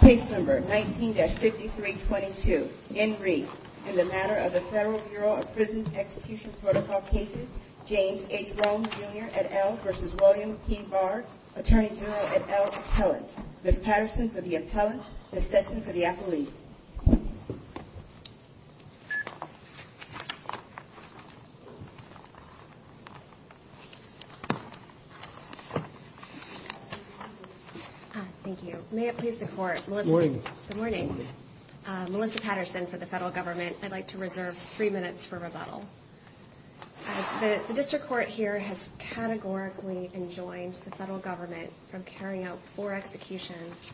Case number 19-5322, in brief, in the matter of the Federal Bureau of Prisons Execution Protocol Cases, James H. Rohn, Jr. et al. v. William P. Barr, Attorney General et al. Appellant. Ms. Patterson for the Appellant, Ms. Sessions for the Appellant. Thank you. May it please the Court, Melissa... Good morning. Good morning. Melissa Patterson for the Federal Government. I'd like to reserve three minutes for rebuttal. The district court here has categorically enjoined the Federal Government from carrying out four executions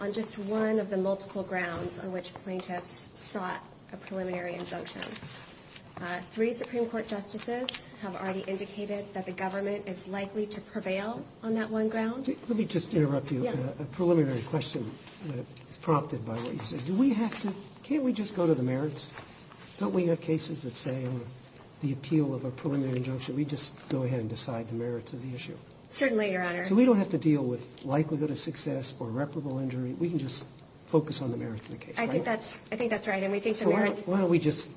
on just one of the multiple grounds on which plaintiffs sought a preliminary injunction. Three Supreme Court justices have already indicated that the government is likely to prevail on that one ground. Let me just interrupt you with a preliminary question prompted by what you said. Do we have to... Can't we just go to the merits? Don't we have cases that say the appeal of a preliminary injunction? We just go ahead and decide the merits of the issue. Certainly, Your Honor. So we don't have to deal with likelihood of success or reputable injury. We can just focus on the merits of the case. I think that's right. Why don't we just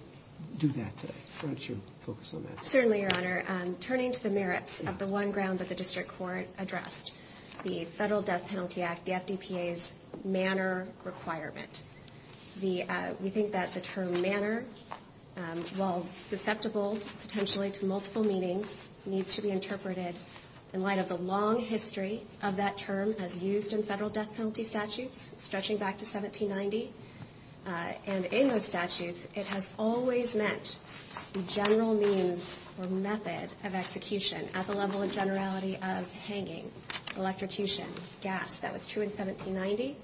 do that today? Why don't you focus on that? Certainly, Your Honor. Turning to the merits of the one ground that the district court addressed, the Federal Death Penalty Act, the FDPA's manner requirement. We think that the term manner, while susceptible potentially to multiple meanings, needs to be interpreted in light of the long history of that term as used in federal death penalty statutes stretching back to 1790. And in those statutes, it has always meant the general means or method of execution at the level of generality of hanging, electrocution, gas. That was true in 1790.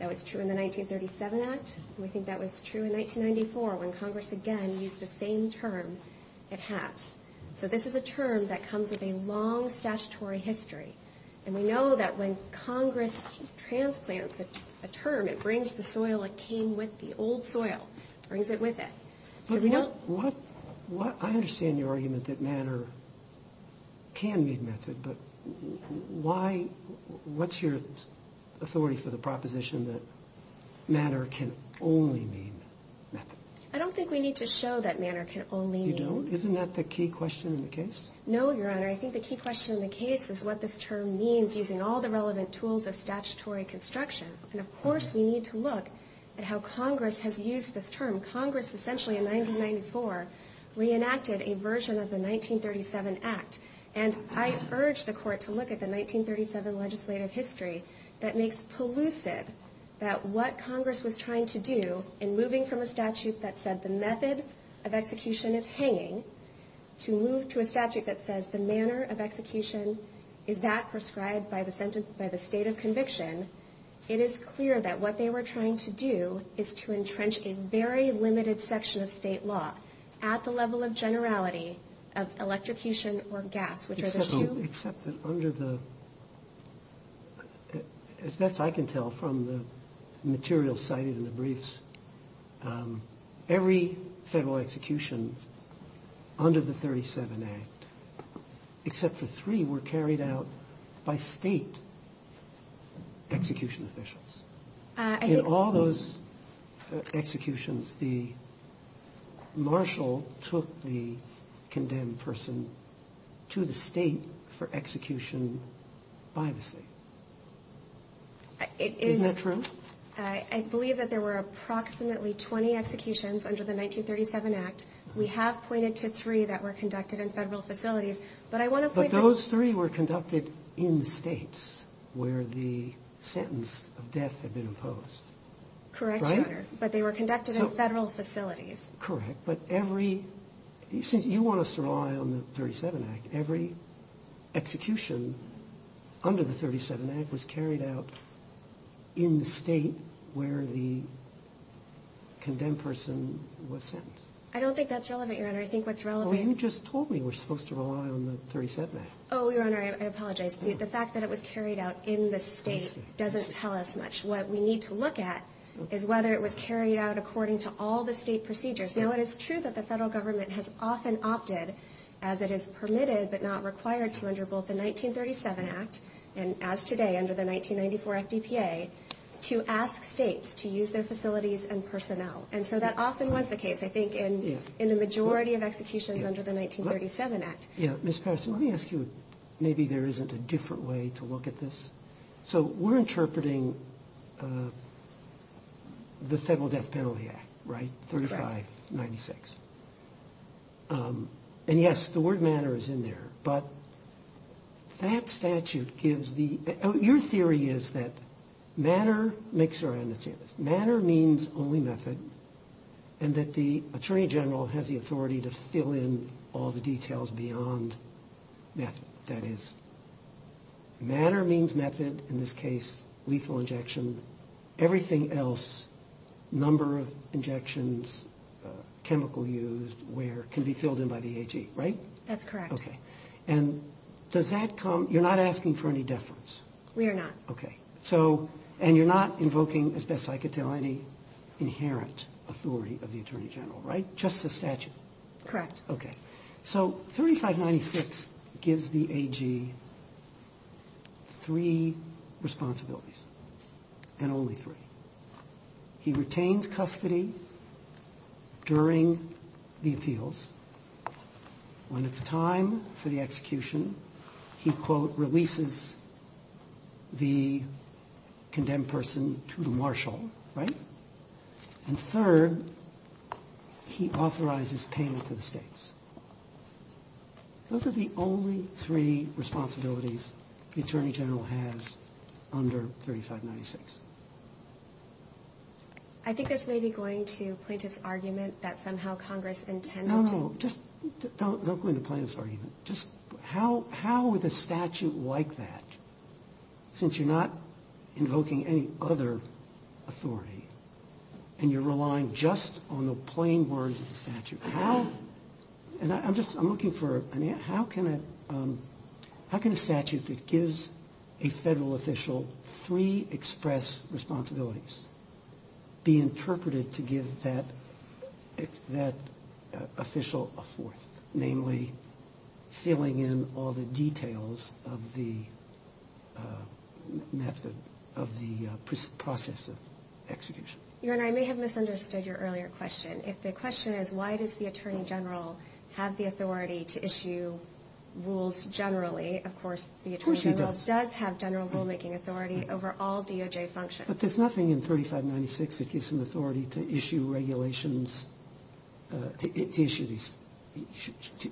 That was true in the 1937 Act. We think that was true in 1994 when Congress again used the same term at Hatch. So this is a term that comes with a long statutory history. And we know that when Congress transplants a term, it brings the soil that came with the old soil. It brings it with it. I understand your argument that manner can mean method, but what's your authority for the proposition that manner can only mean method? I don't think we need to show that manner can only mean. You don't? Isn't that the key question in the case? No, Your Honor. I think the key question in the case is what this term means using all the relevant tools of statutory construction. And, of course, we need to look at how Congress has used this term. Congress essentially in 1994 reenacted a version of the 1937 Act. And I urge the Court to look at the 1937 legislative history that makes elusive that what Congress was trying to do in moving from a statute that said the method of execution is hanging to move to a statute that says the manner of execution is that prescribed by the state of conviction. It is clear that what they were trying to do is to entrench a very limited section of state law at the level of generality of electrocution or gas. Except that under the, as best I can tell from the material cited in the briefs, every federal execution under the 1937 Act, except for three, were carried out by state execution officials. In all those executions, Marshall took the condemned person to the state for execution by the state. Isn't that true? I believe that there were approximately 20 executions under the 1937 Act. We have pointed to three that were conducted in federal facilities. But those three were conducted in states where the sentence of death had been imposed. Correct, Your Honor. But they were conducted in federal facilities. Correct. But every, since you want us to rely on the 1937 Act, every execution under the 1937 Act was carried out in the state where the condemned person was sentenced. I don't think that's relevant, Your Honor. I think what's relevant... Well, you just told me we're supposed to rely on the 1937 Act. Oh, Your Honor, I apologize. The fact that it was carried out in the state doesn't tell us much. What we need to look at is whether it was carried out according to all the state procedures. Now, it is true that the federal government has often opted, as it is permitted but not required to under both the 1937 Act and as today under the 1994 FDPA, to ask states to use their facilities and personnel. And so that often was the case, I think, in the majority of executions under the 1937 Act. Yeah. Ms. Parson, let me ask you, maybe there isn't a different way to look at this. So we're interpreting the Federal Death Penalty Act, right? Right. 3596. And, yes, the word manner is in there. But that statute gives the... Your theory is that manner... Make sure I understand this. Manner means only method and that the Attorney General has the authority to fill in all the details beyond method. That is, manner means method, in this case lethal injection. Everything else, number of injections, chemical used, can be filled in by the AG, right? That's correct. Okay. And does that come... You're not asking for any deference. We are not. Okay. So... And you're not invoking, as best I could tell, any inherent authority of the Attorney General, right? Just the statute. Correct. Okay. So 3596 gives the AG three responsibilities, and only three. He retains custody during the appeals. When it's time for the execution, he, quote, releases the condemned person to the marshal, right? And third, he authorizes payment to the states. Those are the only three responsibilities the Attorney General has under 3596. I think this may be going to include his argument that somehow Congress intended to... No, no, no. Don't go into Plano's argument. How would the statute like that, since you're not invoking any other authority, How can a statute that gives a federal official three express responsibilities be interpreted to give that official a fourth? Namely, filling in all the details of the process of execution. Your Honor, I may have misunderstood your earlier question. If the question is, why does the Attorney General have the authority to issue rules generally, of course, the Attorney General does have general rulemaking authority over all DOJ functions. But there's nothing in 3596 that gives him authority to issue regulations, to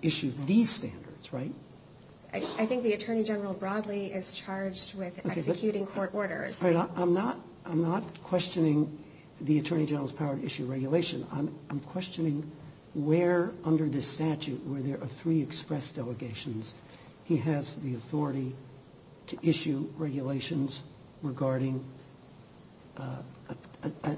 issue these standards, right? I think the Attorney General broadly is charged with executing court orders. I'm not questioning the Attorney General's power to issue regulations. I'm questioning where under this statute, where there are three express delegations, he has the authority to issue regulations regarding a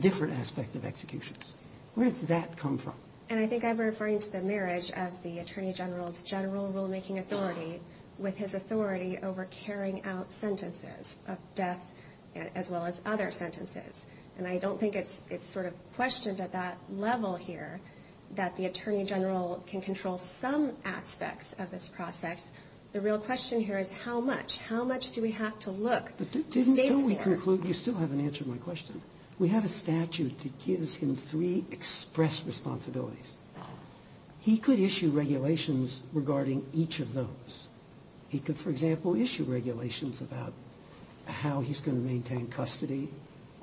different aspect of executions. Where did that come from? And I think I'm referring to the marriage of the Attorney General's general rulemaking authority with his authority over carrying out sentences of death as well as other sentences. And I don't think it's sort of questioned at that level here that the Attorney General can control some aspects of this process. The real question here is how much? How much do we have to look to stay there? But didn't we conclude, you still haven't answered my question. We have a statute that gives him three express responsibilities. He could issue regulations regarding each of those. He could, for example, issue regulations about how he's going to maintain custody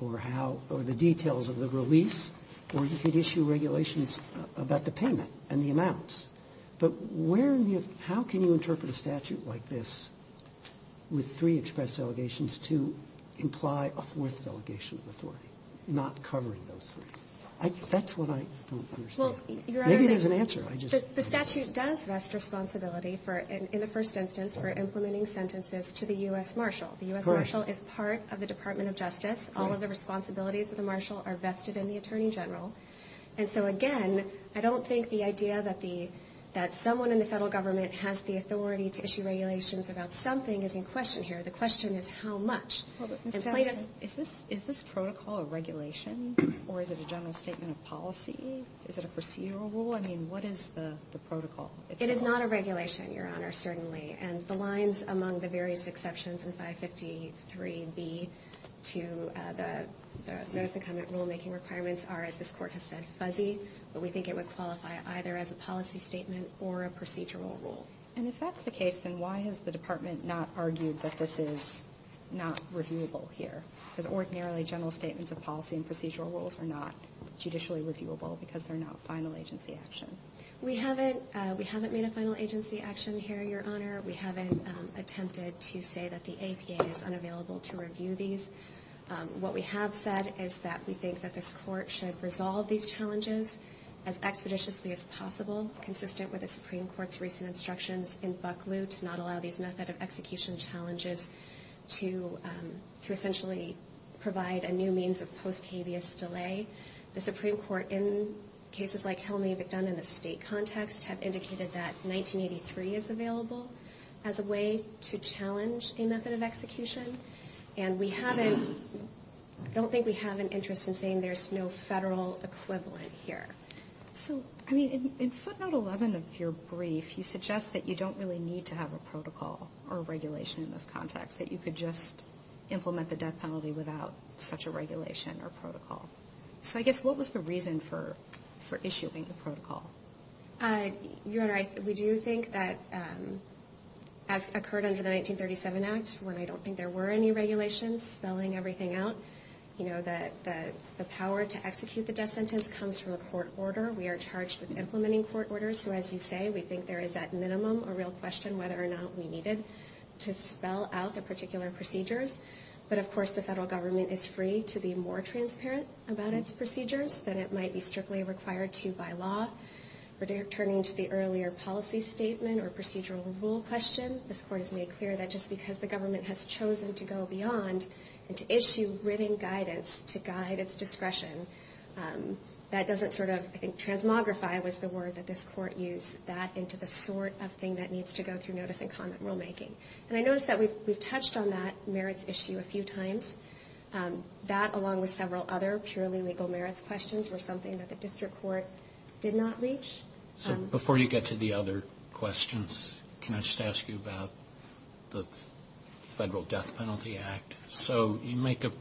or the details of the release, or he could issue regulations about the payment and the amounts. But how can you interpret a statute like this with three express delegations to imply a fourth delegation before not covering those three? That's what I'm trying to understand. Maybe there's an answer. The statute does rest responsibility for, in the first instance, for implementing sentences to the U.S. Marshal. The U.S. Marshal is part of the Department of Justice. All of the responsibilities of the Marshal are vested in the Attorney General. And so, again, I don't think the idea that someone in the federal government has the authority to issue regulations about something is in question here. The question is how much. Is this protocol a regulation, or is it a general statement of policy? Is it a procedural rule? I mean, what is the protocol? It is not a regulation, Your Honor, certainly. And the lines among the various exceptions in 553B to the notice of rulemaking requirements are, as this Court has said, fuzzy. But we think it would qualify either as a policy statement or a procedural rule. And if that's the case, then why has the Department not argued that this is not reviewable here? Because ordinarily general statements of policy and procedural rules are not judicially reviewable because they're not final agency action. We haven't made a final agency action here, Your Honor. We haven't attempted to say that the APA is unavailable to review these. What we have said is that we think that this Court should resolve these challenges as expeditiously as possible, consistent with the Supreme Court's recent instructions in Bucklew to not allow these method of execution challenges to essentially provide a new means of post-habeas delay. The Supreme Court, in cases like how many have been done in the state context, have indicated that 1983 is available as a way to challenge a method of execution. And we haven't, I don't think we have an interest in saying there's no federal equivalent here. So, I mean, in footnote 11 of your brief, you suggest that you don't really need to have a protocol or regulation in this context, that you could just implement the death penalty without such a regulation or protocol. So I guess what was the reason for issuing the protocol? Your Honor, we do think that, as occurred under the 1937 Act, where I don't think there were any regulations spelling everything out, you know, the power to execute the death sentence comes from a court order. We are charged with implementing court orders. So, as you say, we think there is, at minimum, a real question whether or not we needed to spell out the particular procedures. But, of course, the federal government is free to be more transparent about its procedures than it might be strictly required to by law. Returning to the earlier policy statement or procedural rule question, this Court has made clear that just because the government has chosen to go beyond and to issue written guidance to guide its discretion, that doesn't sort of, I think, transmogrify was the word that this Court used, that into the sort of thing that needs to go through notice and comment rulemaking. And I notice that we've touched on that merits issue a few times. That, along with several other purely legal merits questions, was something that the District Court did not reach. Before you get to the other questions, can I just ask you about the Federal Death Penalty Act? So, you make a,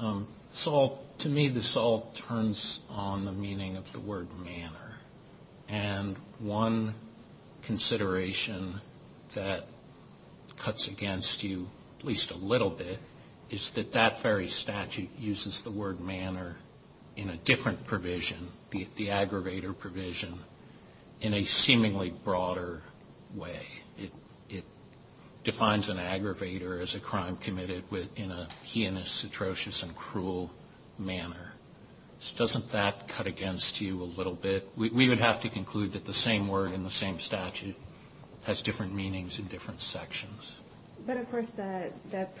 to me, this all turns on the meaning of the word manner. And one consideration that cuts against you, at least a little bit, is that that very statute uses the word manner in a different provision, the aggravator provision, in a seemingly broader way. It defines an aggravator as a crime committed in a heinous, atrocious, and cruel manner. So, doesn't that cut against you a little bit? We would have to conclude that the same word in the same statute has different meanings in different sections. But, of course, the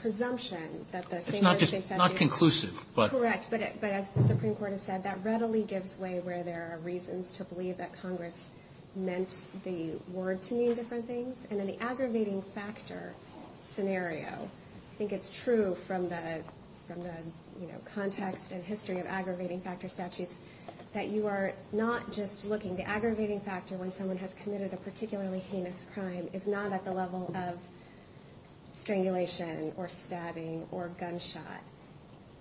presumption that the same word in the statute... It's not conclusive, but... Correct, but as the Supreme Court has said, that readily gives way where there are reasons to believe that Congress meant the word to mean different things. And then the aggravating factor scenario, I think it's true from the, you know, context and history of aggravating factor statutes, that you are not just looking. The aggravating factor when someone has committed a particularly heinous crime is not at the level of strangulation or stabbing or gunshot.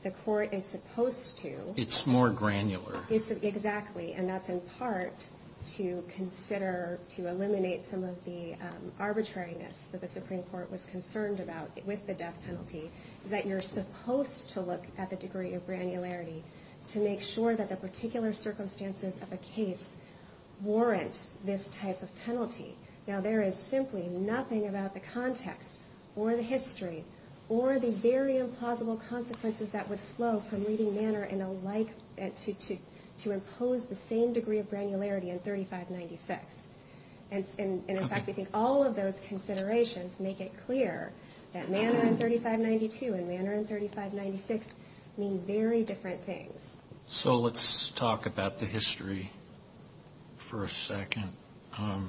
The court is supposed to... It's more granular. Exactly, and that's in part to consider, to eliminate some of the arbitrariness that the Supreme Court was concerned about with the death penalty, that you're supposed to look at the degree of granularity to make sure that the particular circumstances of a case warrant this type of penalty. Now, there is simply nothing about the context or the history or the very implausible consequences that would flow from reading manner in a way to impose the same degree of granularity in 3596. And in fact, all of those considerations make it clear that manner in 3592 and manner in 3596 mean very different things. So let's talk about the history for a second. I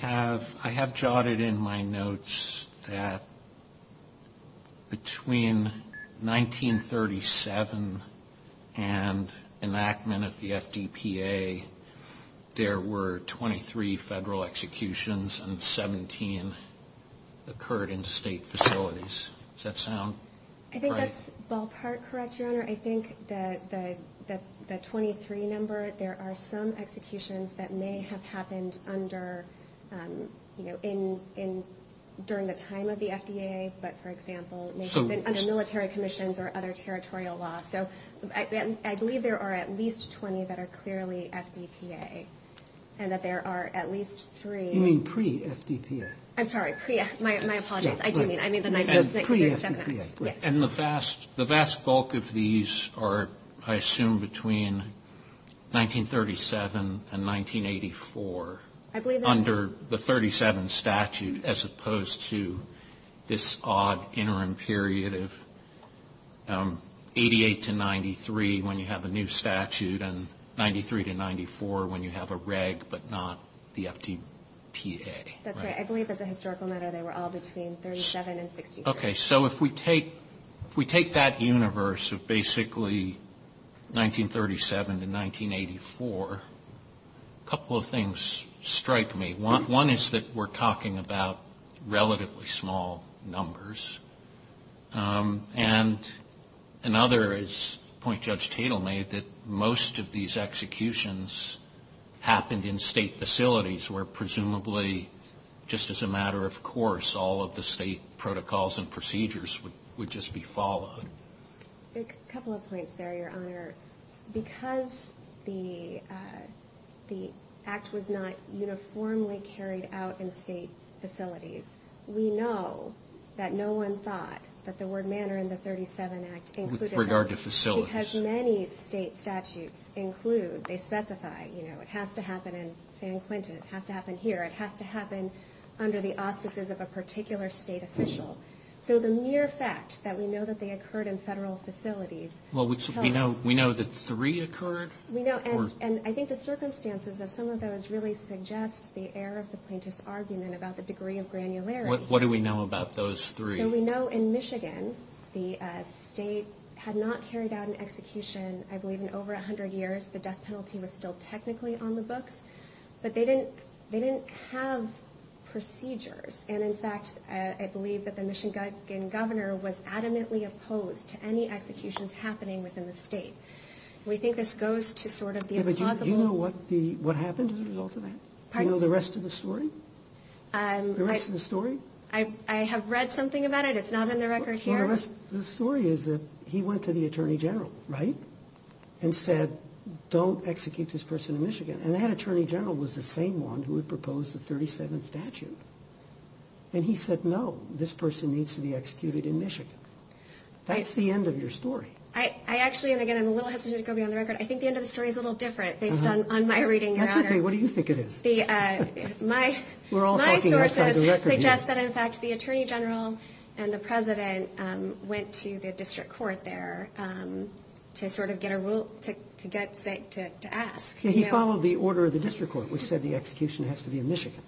have jotted in my notes that between 1937 and enactment of the FDPA, there were 23 federal executions and 17 occurred in state facilities. Does that sound right? I think that's ballpark correct, Your Honor. I think that the 23 number, there are some executions that may have happened during the time of the FDA, but, for example, under military commissions or other territorial law. So I believe there are at least 20 that are clearly FDPA and that there are at least three. You mean pre-FDPA? I'm sorry. My apologies. I do mean pre-FDPA. And the vast bulk of these are, I assume, between 1937 and 1984 under the 37 statute as opposed to this odd interim period of 88 to 93 when you have a new statute and 93 to 94 when you have a reg but not the FDPA. I believe that the historical data were all between 37 and 64. Okay. So if we take that universe of basically 1937 to 1984, a couple of things strike me. One is that we're talking about relatively small numbers. And another is a point Judge Tatel made that most of these executions happened in state facilities where presumably just as a matter of course all of the state protocols and procedures would just be followed. A couple of points there, Your Honor. Because the act was not uniformly carried out in state facilities, we know that no one thought that the word manner in the 37 act included it. With regard to facilities. Because many state statutes include, they specify, you know, it has to happen in San Quentin. It has to happen here. It has to happen under the auspices of a particular state official. So the mere fact that we know that they occurred in federal facilities. Well, we know that three occurred. We know. And I think the circumstances of some of those really suggest the error of the plaintiff's argument about the degree of granularity. What do we know about those three? So we know in Michigan the state had not carried out an execution, I believe, in over 100 years. The death penalty was still technically on the books. But they didn't have procedures. And, in fact, I believe that the Michigan governor was adamantly opposed to any executions happening within the state. We think this goes to sort of the impossible. Do you know what happened as a result of that? Do you know the rest of the story? The rest of the story? I have read something about it. It's not on the record here. The story is that he went to the Attorney General, right, and said, don't execute this person in Michigan. And that Attorney General was the same one who had proposed the 37th statute. And he said, no, this person needs to be executed in Michigan. That's the end of your story. I actually, and, again, I'm a little hesitant to go beyond the record, I think the end of the story is a little different. They've done on my reading there. Absolutely. What do you think it is? My version suggests that, in fact, the Attorney General and the President went to the district court there to sort of get a rule to ask. He followed the order of the district court, which said the execution has to be in Michigan.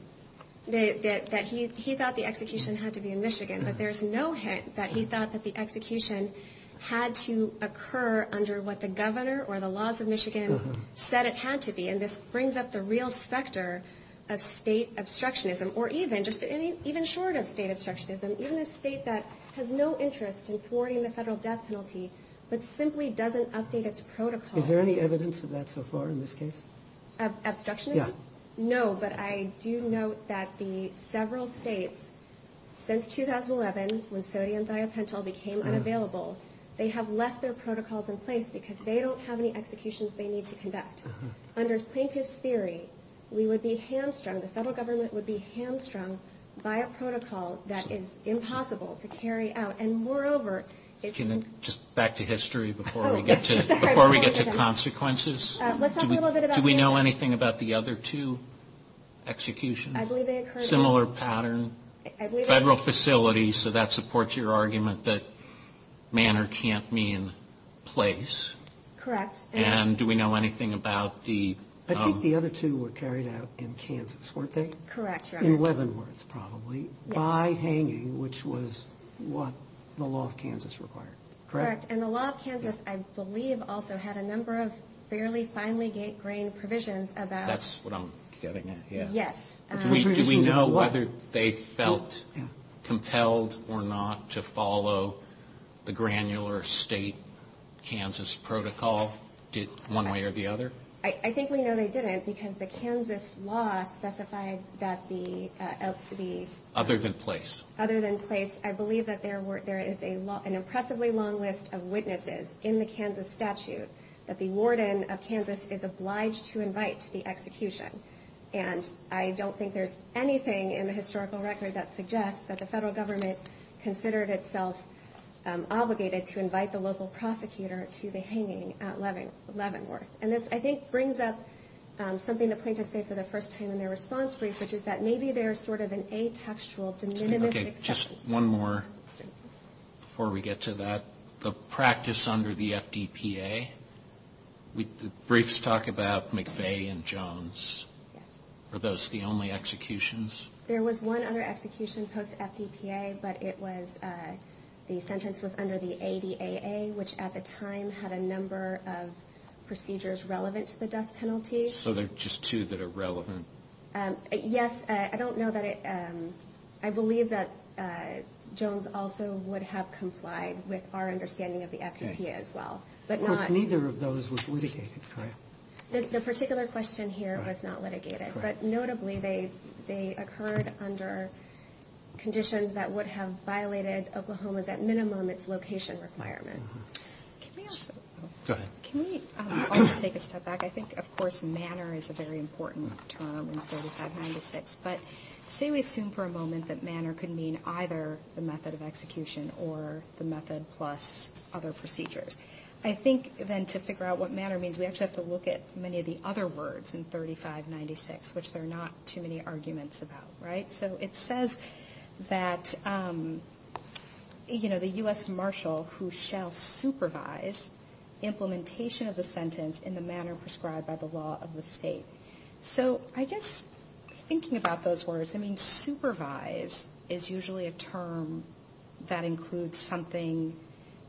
He thought the execution had to be in Michigan. But there's no hint that he thought that the execution had to occur under what the governor or the laws of Michigan said it had to be. And this brings up the real specter of state obstructionism. Or even, just even short of state obstructionism, even a state that has no interest in thwarting the federal death penalty but simply doesn't update its protocol. Is there any evidence of that so far in this case? Obstructionism? Yeah. No, but I do note that the several states, since 2011, when sodium biopental became unavailable, they have left their protocols in place because they don't have any executions they need to conduct. Under plaintiff's theory, we would be hamstrung, the federal government would be hamstrung by a protocol that is impossible to carry out. Just back to history before we get to consequences. Do we know anything about the other two executions? Similar pattern. Federal facility, so that supports your argument that manner can't mean place. Correct. And do we know anything about the... I think the other two were carried out in Kansas, weren't they? Correct. In Leavenworth probably. By hanging, which was what the law of Kansas required. Correct. And the law of Kansas, I believe, also had a number of fairly finely grained provisions about... That's what I'm getting at, yeah. Yes. Do we know whether they felt compelled or not to follow the granular state Kansas protocol one way or the other? I think we know they didn't because the Kansas law specified that the... Other than place. Other than place. I believe that there is an impressively long list of witnesses in the Kansas statute that the warden of Kansas is obliged to invite to the execution. And I don't think there's anything in the historical record that suggests that the federal government considered itself obligated to invite the local prosecutor to the hanging at Leavenworth. And this, I think, brings up something the plaintiffs say for the first time in their response brief, which is that maybe there is sort of an atextual... Okay. Just one more before we get to that. The practice under the FDPA, briefs talk about McVeigh and Jones. Are those the only executions? There was one under execution post-FDPA, but it was the sentences under the ADAA, which at the time had a number of procedures relevant to the death penalty. So they're just two that are relevant? Yes. I don't know that it... I believe that Jones also would have complied with our understanding of the FDPA as well. But not... Of course, neither of those was litigated, correct? The particular question here was not litigated. But notably, they occurred under conditions that would have violated Oklahoma's, at minimum, its location requirements. Can we also... Go ahead. Can we also take a step back? I think, of course, manner is a very important term in 3596. But say we assume for a moment that manner could mean either the method of execution or the method plus other procedures. I think, then, to figure out what manner means, we actually have to look at many of the other words in 3596, which there are not too many arguments about, right? So it says that, you know, the U.S. marshal who shall supervise implementation of the sentence in the manner prescribed by the law of the state. So I guess thinking about those words, I mean, supervise is usually a term that includes something...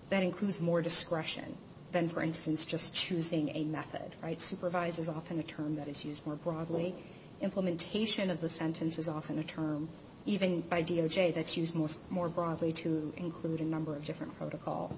That includes more discretion than, for instance, just choosing a method, right? Supervise is often a term that is used more broadly. Implementation of the sentence is often a term, even by DOJ, that's used more broadly to include a number of different protocols.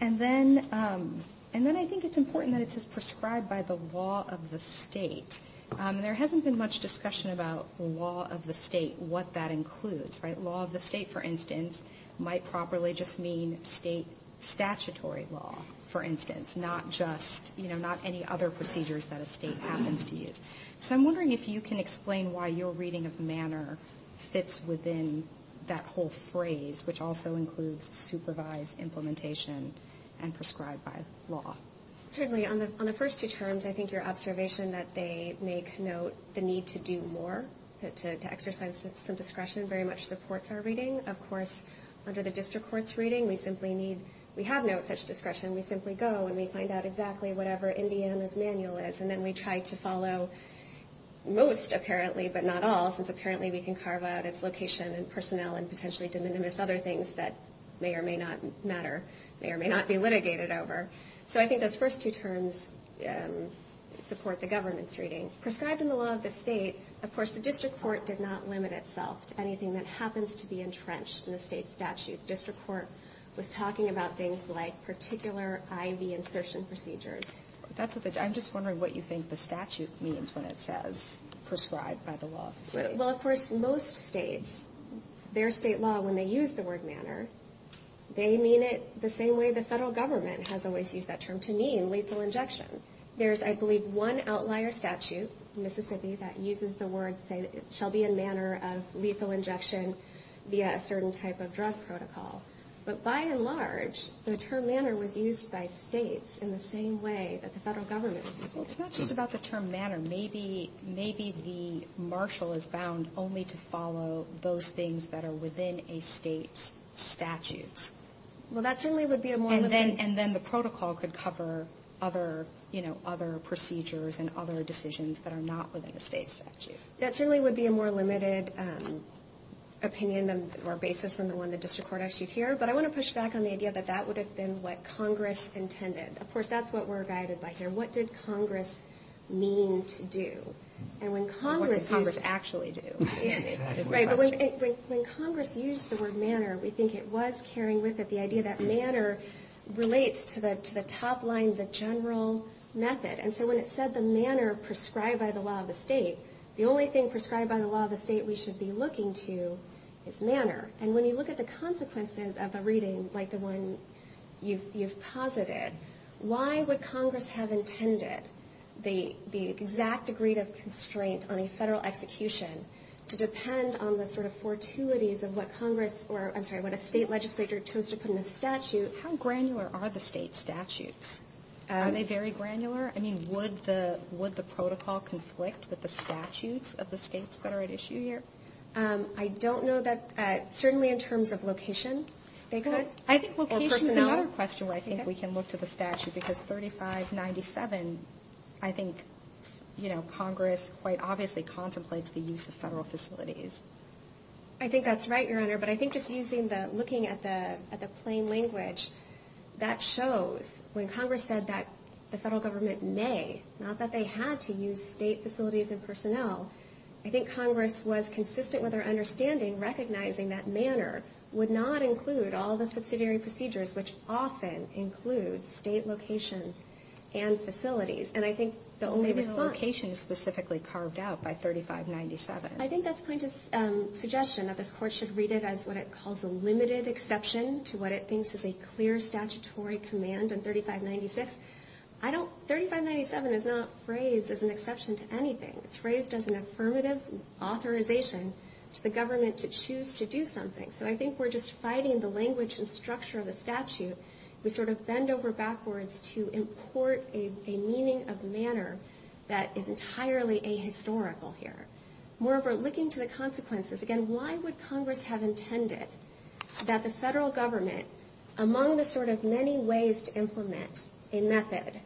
And then I think it's important that it says prescribed by the law of the state. There hasn't been much discussion about the law of the state, what that includes, right? Law of the state, for instance, might properly just mean state statutory law, for instance. Not just, you know, not any other procedures that a state happens to use. So I'm wondering if you can explain why your reading of manner fits within that whole phrase, which also includes supervise, implementation, and prescribed by law. Certainly. On the first two terms, I think your observation that they make note the need to do more, to exercise some discretion, very much supports our reading. Of course, under the district court's reading, we simply need... We have no such discretion. We simply go and we find out exactly whatever Indiana's manual is, and then we try to follow most, apparently, but not all, since apparently we can carve out its location and personnel and potentially do numerous other things that may or may not matter, may or may not be litigated over. So I think those first two terms support the government's reading. Prescribed in the law of the state, of course, the district court did not limit itself to anything that happens to be entrenched in the state statute. The district court was talking about things like particular IV insertion procedures. That's what they... I'm just wondering what you think the statute means when it says prescribed by the law of the state. Well, of course, most states, their state law, when they use the word manner, they mean it the same way the federal government has always used that term to mean lethal injection. There's, I believe, one outlier statute in Mississippi that uses the word, say, it shall be a manner of lethal injection via a certain type of drug protocol. But by and large, the term manner was used by states in the same way that the federal government... Well, it's not just about the term manner. Maybe the marshal is bound only to follow those things that are within a state's statute. Well, that generally would be a more... And then the protocol could cover other procedures and other decisions that are not within a state statute. That certainly would be a more limited opinion or basis than the one the district court actually hears. But I want to push back on the idea that that would have been what Congress intended. Of course, that's what we're guided by here. What did Congress mean to do? And when Congress... What did Congress actually do? When Congress used the word manner, we think it was carrying with it the idea that manner relates to the top line, the general method. And so when it said the manner prescribed by the law of the state, the only thing prescribed by the law of the state we should be looking to is manner. And when you look at the consequences of the reading, like the one you've posited, why would Congress have intended the exact degree of constraint on a federal execution to depend on the sort of fortuities of what Congress or, I'm sorry, what a state legislator chose to put in the statute? How granular are the state statutes? Are they very granular? I mean, would the protocol conflict with the statutes of the states that are at issue here? I don't know that certainly in terms of location. I think location is another question where I think we can look to the statute because 3597, I think Congress quite obviously contemplates the use of federal facilities. I think that's right, Your Honor, but I think just looking at the plain language, that shows when Congress said that the federal government may, not that they had to use state facilities and personnel, I think Congress was consistent with our understanding recognizing that manner would not include all the subsidiary procedures, which often include state locations and facilities. And I think the only response. Maybe the location is specifically carved out by 3597. I think that's kind of a suggestion that this Court should read it as what it calls a limited exception to what it thinks is a clear statutory command in 3596. 3597 is not phrased as an exception to anything. It's phrased as an affirmative authorization to the government to choose to do something. So I think we're just fighting the language and structure of the statute. We sort of bend over backwards to import a meaning of manner that is entirely ahistorical here. Moreover, looking to the consequences, again, why would Congress have intended that the federal government, among the sort of many ways to implement a method,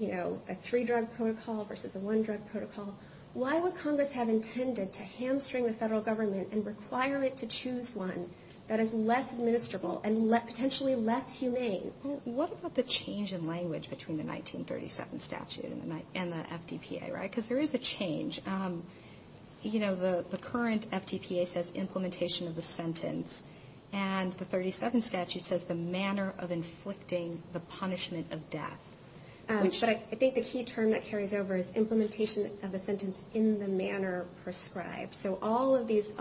a three-drug protocol versus a one-drug protocol, why would Congress have intended to hamstring the federal government and require it to choose one that is less administrable and potentially less humane? What about the change in language between the 1937 statute and the FDPA? Because there is a change. You know, the current FDPA says implementation of the sentence, and the 1937 statute says the manner of inflicting the punishment of death. But I think the key term that carries over is implementation of the sentence in the manner prescribed. So all of these,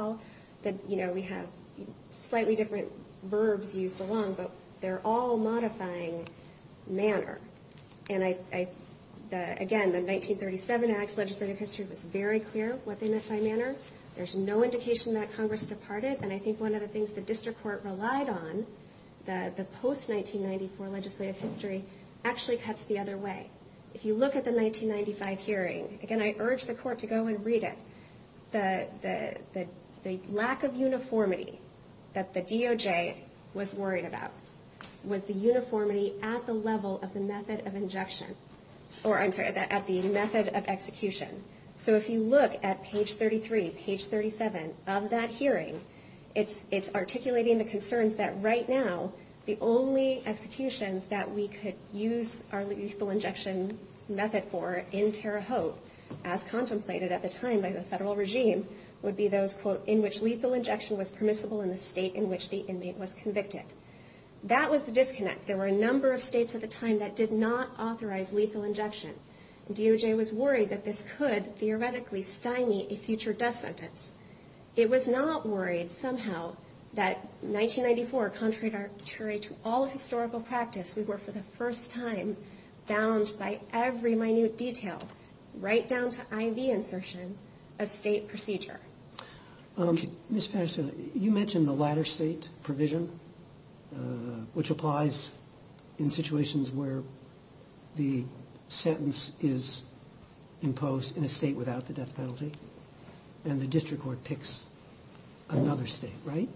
you know, we have slightly different verbs used along, but they're all modifying manner. And, again, the 1937 Act's legislative history was very clear what they meant by manner. There's no indication that Congress departed, and I think one of the things the district court relied on, the post-1994 legislative history, actually cuts the other way. If you look at the 1995 hearing, again, I urge the court to go and read it. The lack of uniformity that the DOJ was worried about was the uniformity at the level of the method of injection, or I'm sorry, at the method of execution. So if you look at page 33, page 37 of that hearing, it's articulating the concerns that right now the only executions that we could use our lethal injection method for in Terre Haute, as contemplated at the time by the federal regime, would be those, quote, in which lethal injection was permissible in the state in which the inmate was convicted. That was the disconnect. There were a number of states at the time that did not authorize lethal injection. DOJ was worried that this could, theoretically, stymie a future death sentence. It was not worried, somehow, that 1994, contrary to all historical practice, we were, for the first time, bound by every minute detail, right down to IV insertion, a state procedure. Ms. Paschen, you mentioned the latter state provision, which applies in situations where the sentence is imposed in a state without the death penalty, and the district court picks another state, right?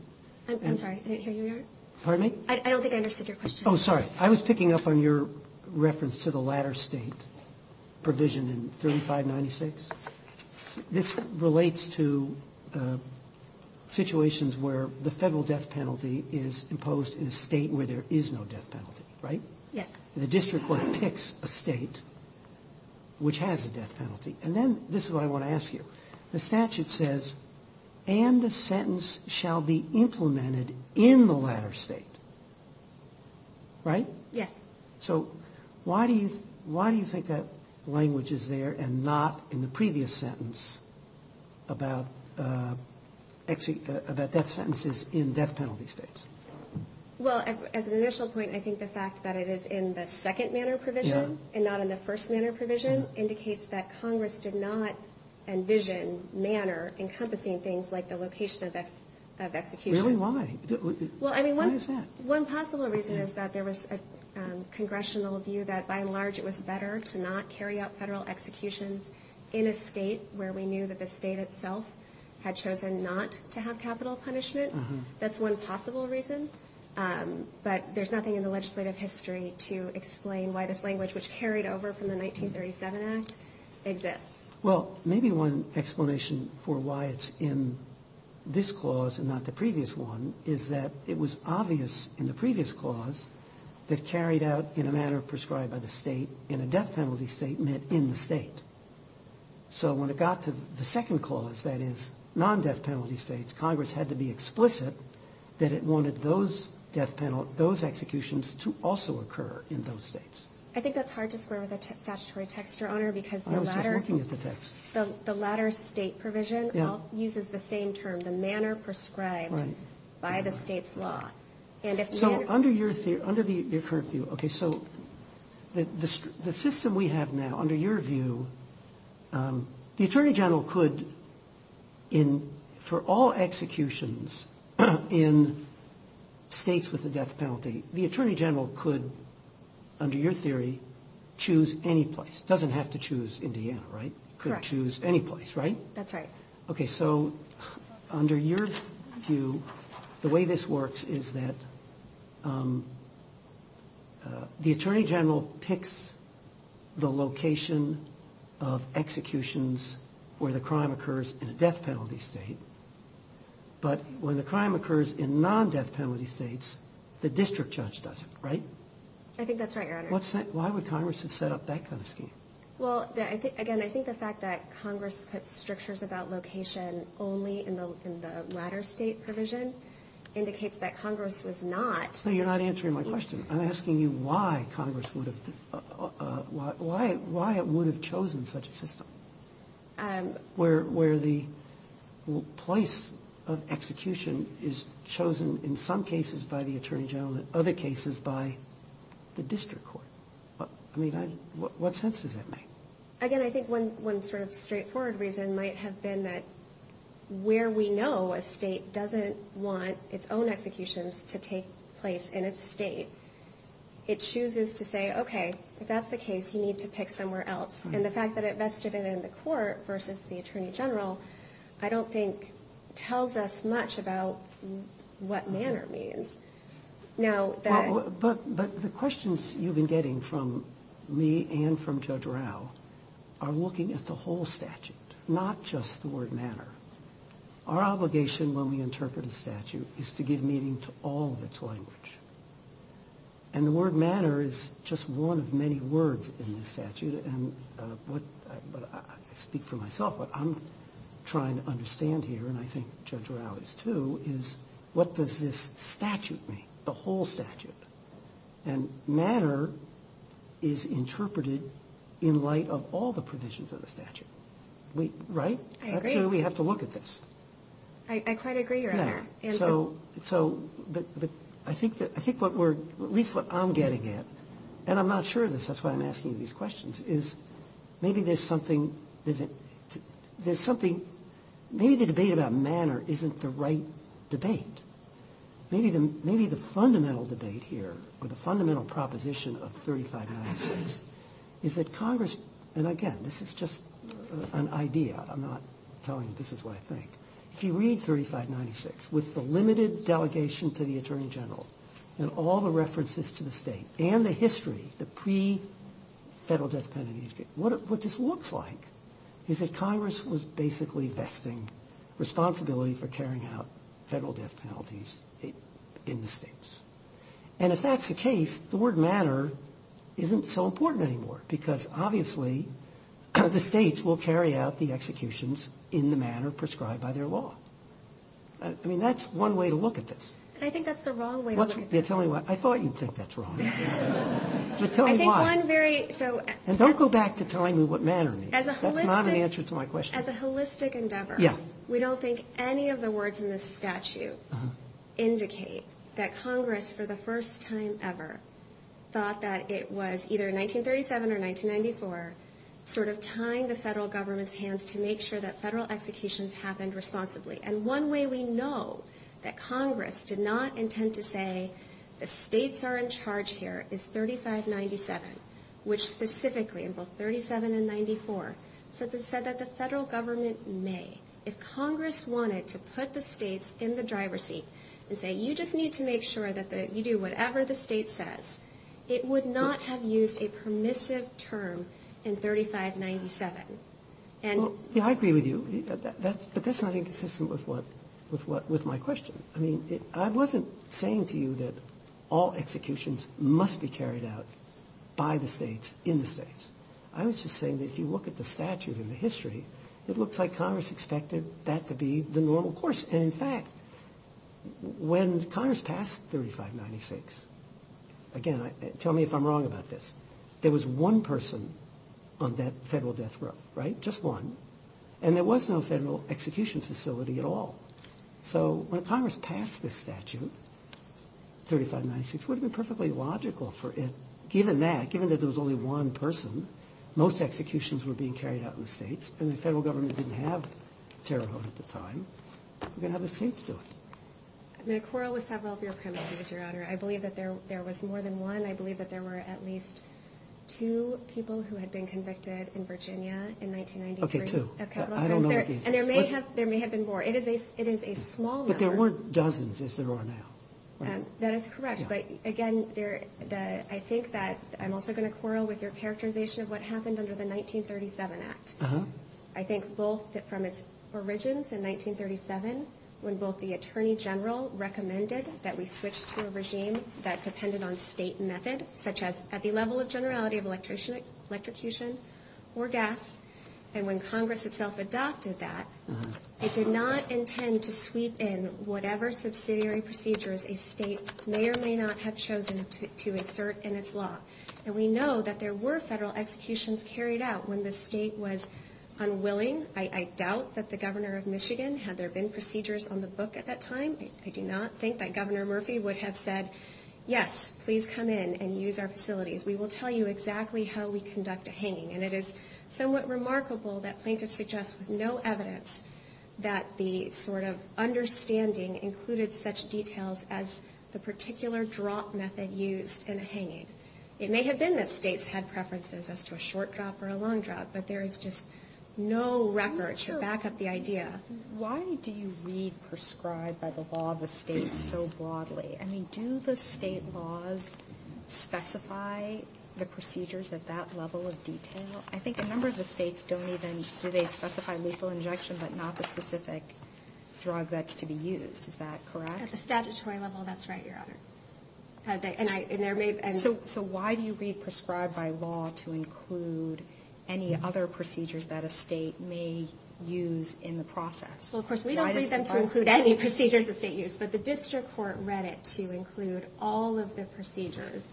I'm sorry, did I hear you right? I don't think I understood your question. Oh, sorry. I was picking up on your reference to the latter state provision in 3596. This relates to situations where the federal death penalty is imposed in a state where there is no death penalty, right? Yeah. The district court picks a state which has a death penalty. And then, this is what I want to ask you. The statute says, and the sentence shall be implemented in the latter state, right? Yes. So, why do you think that language is there and not in the previous sentence about death sentences in death penalty states? Well, as an initial point, I think the fact that it is in the second manner provision and not in the first manner provision indicates that Congress did not envision manner encompassing things like the location of execution. Really? Why? Well, I mean, one possible reason is that there was a congressional view that, by and large, it was better to not carry out federal executions in a state where we knew that the state itself had chosen not to have capital punishment. That's one possible reason. But there's nothing in the legislative history to explain why this language, which carried over from the 1937 Act, exists. Well, maybe one explanation for why it's in this clause and not the previous one is that it was obvious in the previous clause it carried out in a manner prescribed by the state and a death penalty statement in the state. So, when it got to the second clause, that is, non-death penalty states, Congress had to be explicit that it wanted those executions to also occur in those states. I think that's hard to square with a statutory text, Your Honor, because the latter state provision uses the same term, the manner prescribed by the state's law. So, under the current view, the system we have now, under your view, the Attorney General could, for all executions in states with a death penalty, the Attorney General could, under your theory, choose any place. Doesn't have to choose Indiana, right? Correct. Couldn't choose any place, right? That's right. Okay, so, under your view, the way this works is that the Attorney General picks the location of executions where the crime occurs in a death penalty state, but when the crime occurs in non-death penalty states, the district judge doesn't, right? I think that's right, Your Honor. Why would Congress have set up that kind of scheme? Well, again, I think the fact that Congress put strictures about location only in the latter state provision indicates that Congress was not. No, you're not answering my question. I'm asking you why Congress would have – why it would have chosen such a system where the place of execution is chosen, in some cases, by the Attorney General and, in other cases, by the district court. I mean, what sense does that make? Again, I think one sort of straightforward reason might have been that where we know a state doesn't want its own executions to take place in a state, it chooses to say, okay, if that's the case, you need to pick somewhere else. And the fact that it vested it in the court versus the Attorney General, I don't think, tells us much about what manner means. But the questions you've been getting from me and from Judge Rao are looking at the whole statute, not just the word manner. Our obligation when we interpret a statute is to give meaning to all of its language. And the word manner is just one of many words in the statute. I speak for myself, but I'm trying to understand here, and I think Judge Rao is too, is what does this statute mean, the whole statute? And manner is interpreted in light of all the provisions of the statute. Right? I agree. We have to look at this. I quite agree, Your Honor. So I think at least what I'm getting at, and I'm not sure that's why I'm asking these questions, is maybe there's something – maybe the debate about manner isn't the right debate. Maybe the fundamental debate here or the fundamental proposition of 3596 is that Congress – and again, this is just an idea. I'm not telling you this is what I think. If you read 3596 with the limited delegation to the Attorney General and all the references to the state and the history, the pre-federal death penalty, what this looks like is that Congress was basically vexing responsibility for carrying out federal death penalties in the states. And if that's the case, the word manner isn't so important anymore because obviously the states will carry out the executions in the manner prescribed by their law. I mean, that's one way to look at this. I think that's the wrong way to look at it. I thought you'd think that's wrong. Just tell me why. And don't go back to telling me what manner means. That's not an answer to my question. As a holistic endeavor, we don't think any of the words in this statute indicate that Congress for the first time ever thought that it was either 1937 or 1994 sort of tying the federal government's hands to make sure that federal executions happened responsibly. And one way we know that Congress did not intend to say the states are in charge here is 3597, which specifically in both 37 and 94 says it said that the federal government may. If Congress wanted to put the states in the driver's seat and say you just need to make sure that you do whatever the state says, it would not have used a permissive term in 3597. I agree with you, but that's not inconsistent with my question. I mean, I wasn't saying to you that all executions must be carried out by the states in the states. I was just saying that if you look at the statute in the history, it looks like Congress expected that to be the normal course. And in fact, when Congress passed 3596, again, tell me if I'm wrong about this. There was one person on that federal death row, right? Just one. And there was no federal execution facility at all. So when Congress passed this statute, 3596, it would have been perfectly logical for it. Given that, given that there was only one person, most executions were being carried out in the states, and the federal government didn't have terrorism at the time. We're going to have the states do it. The quarrel with South Lafayette County, Your Honor, I believe that there was more than one. I believe that there were at least two people who had been convicted in Virginia in 1993. Okay, two. Okay. And there may have been more. It is a small number. But there were dozens as it were now. That is correct. But, again, I think that I'm also going to quarrel with your characterization of what happened under the 1937 Act. I think both from its origins in 1937, when both the attorney general recommended that we switch to a regime that depended on state method, such as at the level of generality of electrocution or gas, and when Congress itself adopted that, it did not intend to sweep in whatever subsidiary procedures a state may or may not have chosen to insert in its law. And we know that there were federal executions carried out when the state was unwilling. I doubt that the governor of Michigan had there been procedures on the book at that time. I do not think that Governor Murphy would have said, yes, please come in and use our facilities. We will tell you exactly how we conduct a hanging. And it is somewhat remarkable that plaintiffs suggest with no evidence that the sort of understanding included such details as the particular drop method used in a hanging. It may have been that states had preferences as to a short drop or a long drop, but there is just no record to back up the idea. Why do you re-prescribe by the law the states so broadly? I mean, do the state laws specify the procedures at that level of detail? I think a number of the states don't even, do they specify lethal injection but not the specific drug that should be used? Is that correct? At the statutory level, that's right, Your Honor. So why do you re-prescribe by law to include any other procedures that a state may use in the process? Well, of course, we don't need them to include any procedures that state use, but the district court read it to include all of the procedures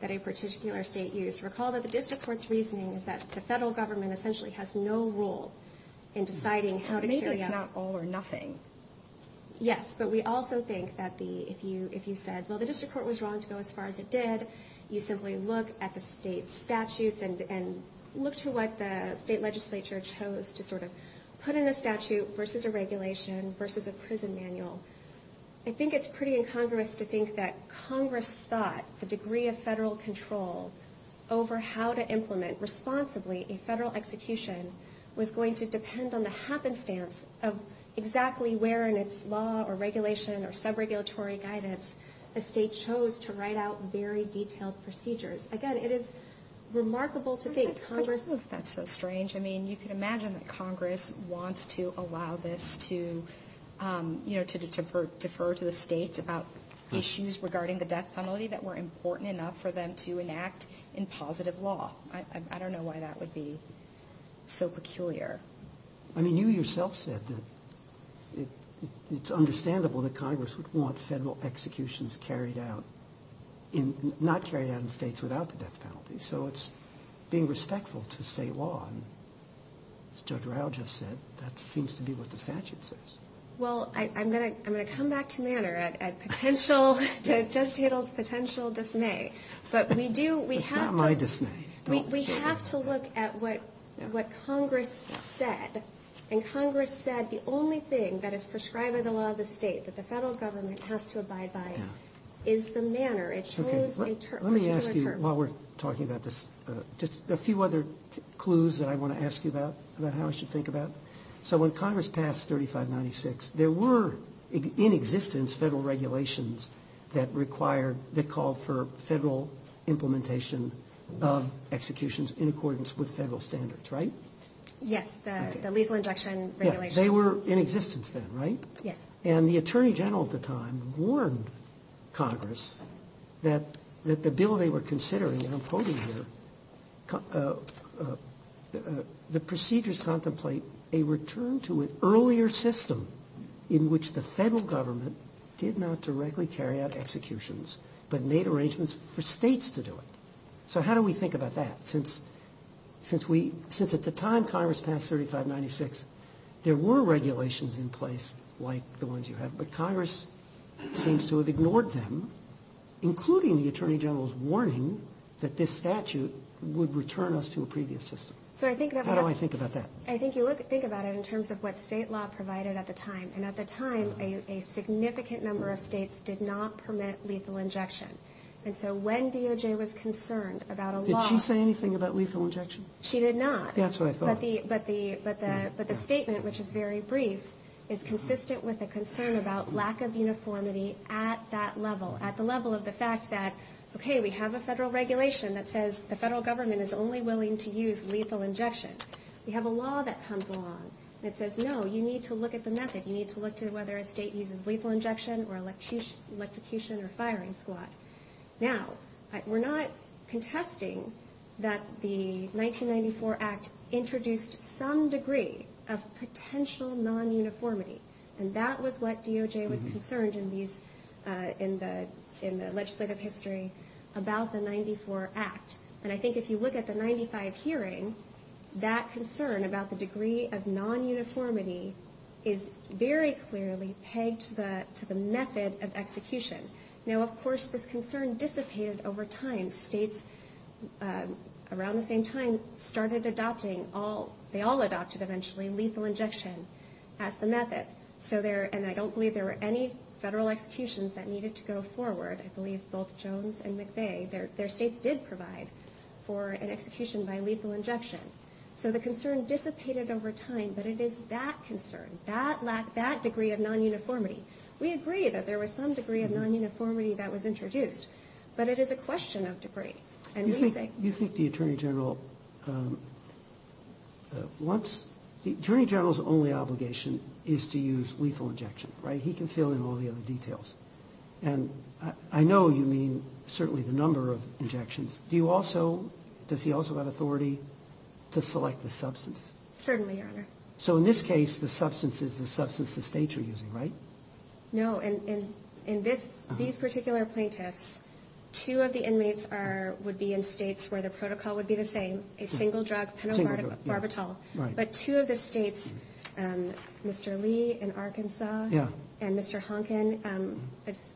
that a particular state used. Recall that the district court's reasoning is that the federal government essentially has no role in deciding how to carry out... Maybe it's not all or nothing. Yes, but we also think that if you said, well, the district court was wrong to go as far as it did, you simply look at the state statutes and look to what the state legislature chose to sort of put in the statute versus a regulation versus a prison manual. I think it's pretty incongruous to think that Congress thought the degree of federal control over how to implement responsibly a federal execution was going to depend on the happenstance of exactly where in its law or regulation or sub-regulatory guidance the state chose to write out very detailed procedures. Again, it is remarkable to think Congress... to defer to a state about issues regarding the death penalty that were important enough for them to enact in positive law. I don't know why that would be so peculiar. I mean, you yourself said that it's understandable that Congress would want federal executions carried out, not carried out in states without the death penalty, so it's being respectful to state law. Judge Rao just said that seems to be what the statute says. Well, I'm going to come back to Manner at potential... to just yield potential dismay, but we do... It's not my dismay. We have to look at what Congress said, and Congress said the only thing that is prescribed in the law of the state that the federal government has to abide by is the manner. It's always a term. Let me ask you, while we're talking about this, just a few other clues that I want to ask you about, about how I should think about. So when Congress passed 3596, there were in existence federal regulations that required... that called for federal implementation of executions in accordance with federal standards, right? Yes, the lethal injection regulations. Yes, they were in existence then, right? Yes. And the Attorney General at the time warned Congress that the bill they were considering, and I'm quoting here, the procedures contemplate a return to an earlier system in which the federal government did not directly carry out executions, but made arrangements for states to do it. So how do we think about that? Since at the time Congress passed 3596, there were regulations in place like the ones you have, but Congress seems to have ignored them, including the Attorney General's warning that this statute would return us to a previous system. How do I think about that? I think you have to think about it in terms of what state law provided at the time, and at the time a significant number of states did not permit lethal injection. And so when DOJ was concerned about a law... Did she say anything about lethal injection? She did not. That's what I thought. But the statement, which is very brief, is consistent with a concern about lack of uniformity at that level, at the level of the fact that, okay, we have a federal regulation that says the federal government is only willing to use lethal injection. We have a law that comes along that says, no, you need to look at the method. You need to look to whether a state uses lethal injection or an execution or firing squad. Now, we're not contesting that the 1994 Act introduced some degree of potential non-uniformity, and that was what DOJ was concerned in the legislative history about the 1994 Act. And I think if you look at the 1995 hearing, that concern about the degree of non-uniformity is very clearly pegged to the method of execution. Now, of course, this concern dissipated over time. States around the same time started adopting all...they all adopted eventually lethal injection as the method. And I don't believe there were any federal executions that needed to go forward. I believe both Jones and McVeigh, their states did provide for an execution by lethal injection. So the concern dissipated over time, but it is that concern, that degree of non-uniformity. We agree that there was some degree of non-uniformity that was introduced, but it is a question of degree. And we think... You think the Attorney General... The Attorney General's only obligation is to use lethal injection, right? He can fill in all the other details. And I know you mean certainly the number of injections. Do you also...does he also have authority to select the substance? Certainly, Your Honor. So in this case, the substance is the substance the states are using, right? No. In this particular plaintiff, two of the inmates would be in states where the protocol would be the same. A single drug and a Barbital. But two of the states, Mr. Lee in Arkansas and Mr. Honkin,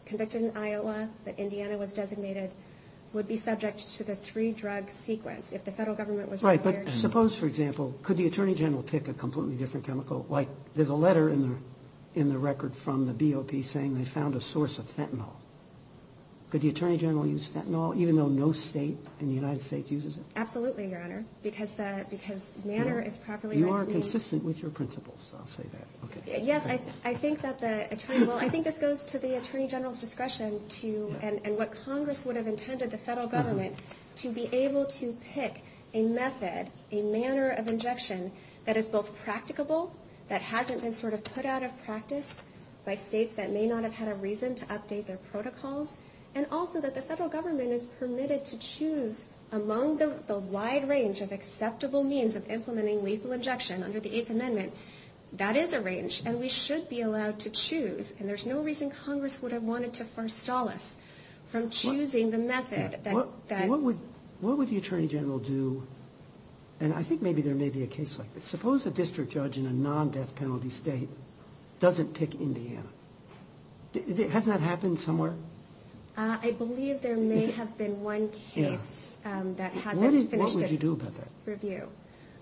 convicted in Iowa, but Indiana was designated, would be subject to the three-drug sequence if the federal government was aware. Right, but suppose, for example, could the Attorney General pick a completely different chemical? Like, there's a letter in the record from the BOP saying they found a source of fentanyl. Could the Attorney General use fentanyl, even though no state in the United States uses it? Absolutely, Your Honor, because manner is properly... You are consistent with your principles, I'll tell you that. Yes, I think that the Attorney General... I think this goes to the Attorney General's discretion to... a manner of injection that is both practicable, that hasn't been sort of put out of practice by states that may not have had a reason to update their protocols, and also that the federal government is permitted to choose among the wide range of acceptable means of implementing lethal injection under the Eighth Amendment. That is a range, and we should be allowed to choose, and there's no reason Congress would have wanted to forestall us from choosing the method that... And I think maybe there may be a case like this. Suppose a district judge in a non-death penalty state doesn't pick Indiana. Has that happened somewhere? I believe there may have been one case that had them finish the review. What would you do about that?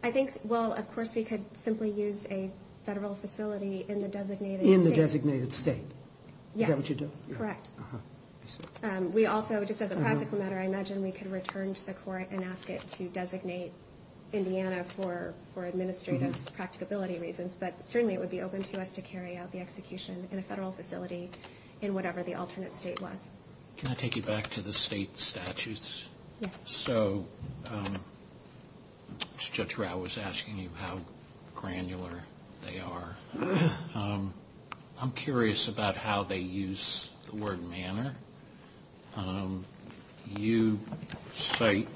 I think, well, of course we could simply use a federal facility in the designated state. In the designated state? Yes. Is that what you'd do? Correct. We also, just as a practical matter, I imagine we could return to the court and ask it to designate Indiana for administrative practicability reasons, but certainly it would be open to us to carry out the execution in a federal facility in whatever the alternate state was. Can I take you back to the state statutes? Yes. So Judge Rau was asking you how granular they are. I'm curious about how they use the word manner. You cite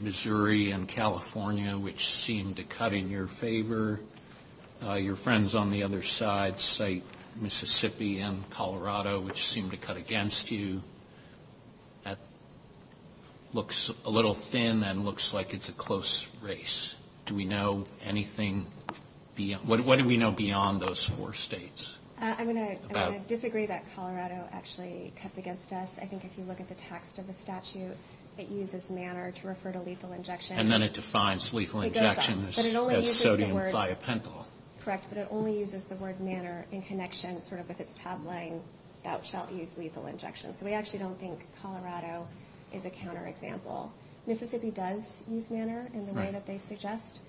Missouri and California, which seem to cut in your favor. Your friends on the other side cite Mississippi and Colorado, which seem to cut against you. That looks a little thin and looks like it's a close race. Do we know anything? What do we know beyond those four states? I'm going to disagree that Colorado actually cuts against us. I think if you look at the text of the statute, it uses manner to refer to lethal injections. And then it defines lethal injections as sodium biopentol. Correct, but it only uses the word manner in connection sort of with its tab line about child use lethal injections. So we actually don't think Colorado is a counterexample. Mississippi does use manner in the way that they suggest,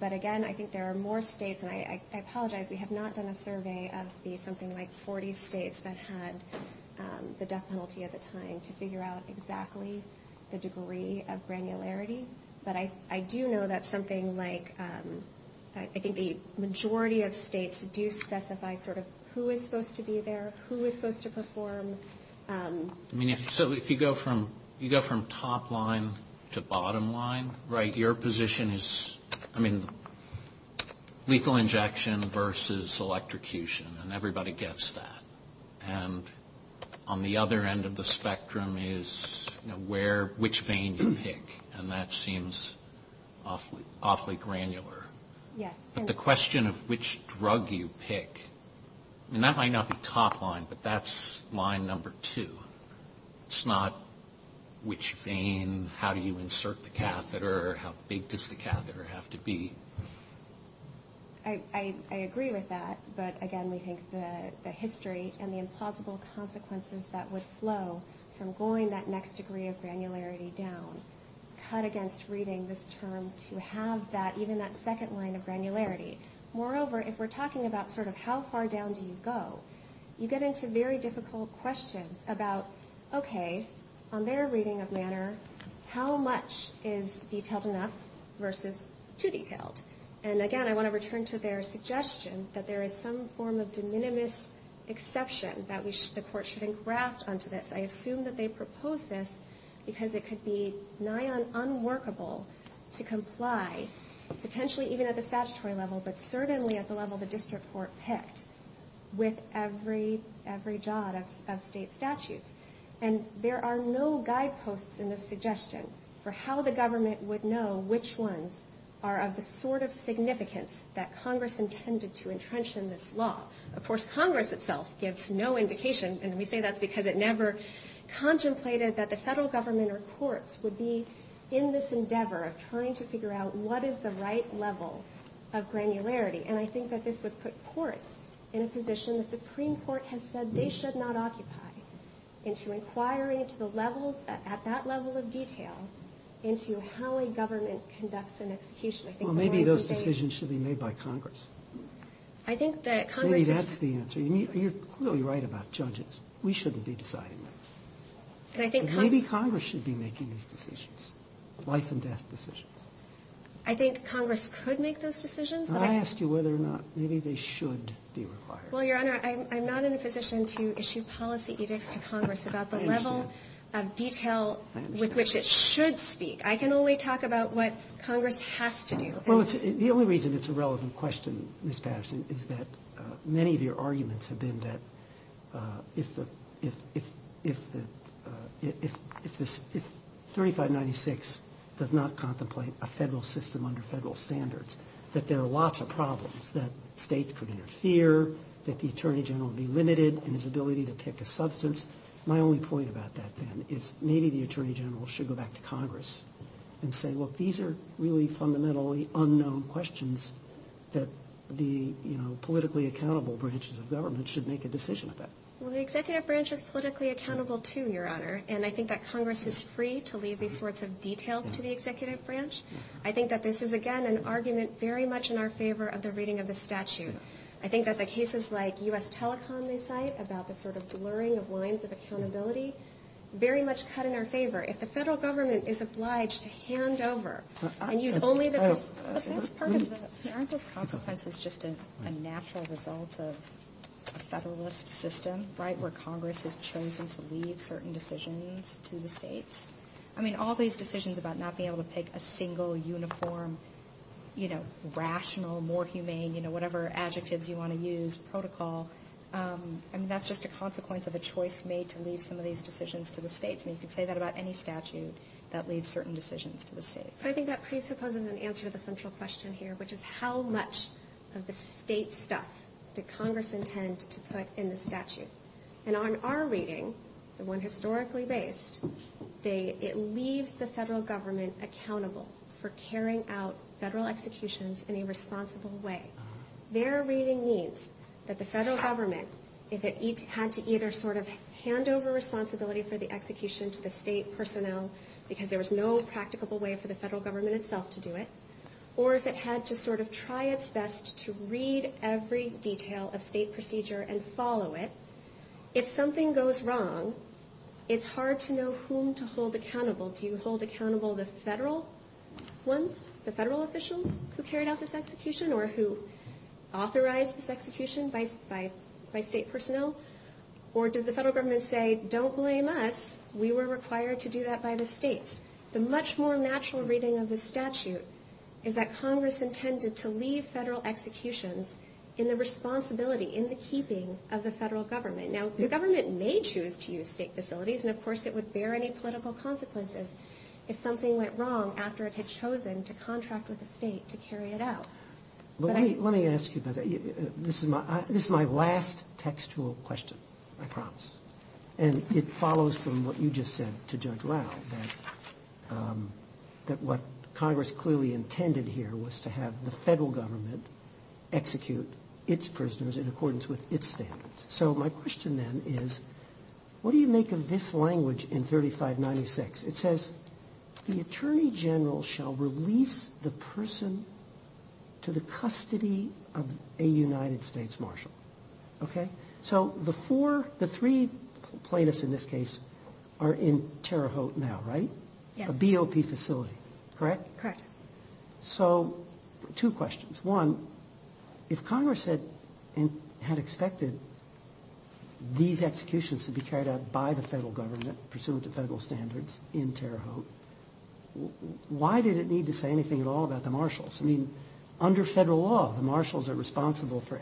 but again, I think there are more states, and I apologize, we have not done a survey of the something like 40 states that had the death penalty at the time to figure out exactly the degree of granularity. But I do know that something like, I think the majority of states do specify sort of who is supposed to be there, who is supposed to perform. So if you go from top line to bottom line, right, your position is lethal injection versus electrocution, and everybody gets that. And on the other end of the spectrum is which vein you pick, and that seems awfully granular. But the question of which drug you pick, and that might not be top line, but that's line number two. It's not which vein, how do you insert the catheter, how big does the catheter have to be. I agree with that, but again, we think the history and the impossible consequences that would flow from going that next degree of granularity down, cut against reading this term to have that, even that second line of granularity. Moreover, if we're talking about sort of how far down do you go, you get into very difficult questions about, okay, on their reading of manner, how much is detailed enough versus too detailed. And again, I want to return to their suggestion that there is some form of de minimis exception that the court should engraft onto this. I assume that they proposed this because it could be nigh on unworkable to comply, potentially even at the statutory level, but certainly at the level the district court picked, with every jot of state statute. And there are no guideposts in this suggestion for how the government would know which ones are of the sort of significance that Congress intended to entrench in this law. Of course, Congress itself gives no indication, and we say that's because it never contemplated that the federal government or courts would be in this endeavor of trying to figure out what is the right level of granularity. And I think that this would put courts in a position the Supreme Court has said they should not occupy into inquiring at that level of detail into how a government conducts an execution. Well, maybe those decisions should be made by Congress. Maybe that's the answer. You're clearly right about judges. We shouldn't be deciding that. But maybe Congress should be making these decisions, life and death decisions. I think Congress could make those decisions. I asked you whether or not maybe they should be required. Well, Your Honor, I'm not in a position to issue policy edicts to Congress about the level of detail with which it should speak. I can only talk about what Congress has to do. The only reason it's a relevant question, Ms. Patterson, is that many of your arguments have been that if 3596 does not contemplate a federal system under federal standards, that there are lots of problems, that states could interfere, that the Attorney General would be limited in his ability to take a substance. My only point about that, then, is maybe the Attorney General should go back to Congress and say, well, these are really fundamentally unknown questions that the politically accountable branches of government should make a decision about. Well, the Executive Branch is politically accountable, too, Your Honor, and I think that Congress is free to leave these sorts of details to the Executive Branch. I think that this is, again, an argument very much in our favor of the reading of the statute. I think that the cases like U.S. Telecom, they cite, about the sort of blurring of lines of accountability, very much cut in our favor. If the federal government is obliged to hand over and use only the... Aren't those consequences just a natural result of a federalist system, right, where Congress is chosen to lead certain decisions to the states? I mean, all these decisions about not being able to pick a single, uniform, you know, rational, more humane, you know, whatever adjectives you want to use, protocol, I mean, that's just a consequence of a choice made to lead some of these decisions to the states. And you can say that about any statute that leads certain decisions to the states. I think that presupposes an answer to the central question here, which is how much of the state stuff did Congress intend to put in the statute? And on our reading, the one historically based, it leaves the federal government accountable for carrying out federal executions in a responsible way. Their reading means that the federal government, if it had to either sort of hand over responsibility for the execution to the state personnel because there was no practicable way for the federal government itself to do it, or if it had to sort of try its best to read every detail of state procedure and follow it, if something goes wrong, it's hard to know whom to hold accountable. Do you hold accountable the federal one, the federal official who carried out this execution or who authorized this execution by state personnel? Or does the federal government say, don't blame us, we were required to do that by the states? The much more natural reading of the statute is that Congress intended to leave federal executions in the responsibility, in the keeping of the federal government. Now, the government may choose to use state facilities, and of course it would bear any political consequences if something went wrong after it had chosen to contract with the state to carry it out. Let me ask you, this is my last textual question, I promise. And it follows from what you just said to Judge Rao, that what Congress clearly intended here was to have the federal government execute its prisoners in accordance with its standards. So my question then is, what do you make of this language in 3596? It says, the Attorney General shall release the person to the custody of a United States Marshal. So the three plaintiffs in this case are in Terre Haute now, right? A BOP facility, correct? Correct. So two questions. One, if Congress had expected these executions to be carried out by the federal government, pursuant to federal standards, in Terre Haute, why did it need to say anything at all about the Marshals? I mean, under federal law, the Marshals are responsible for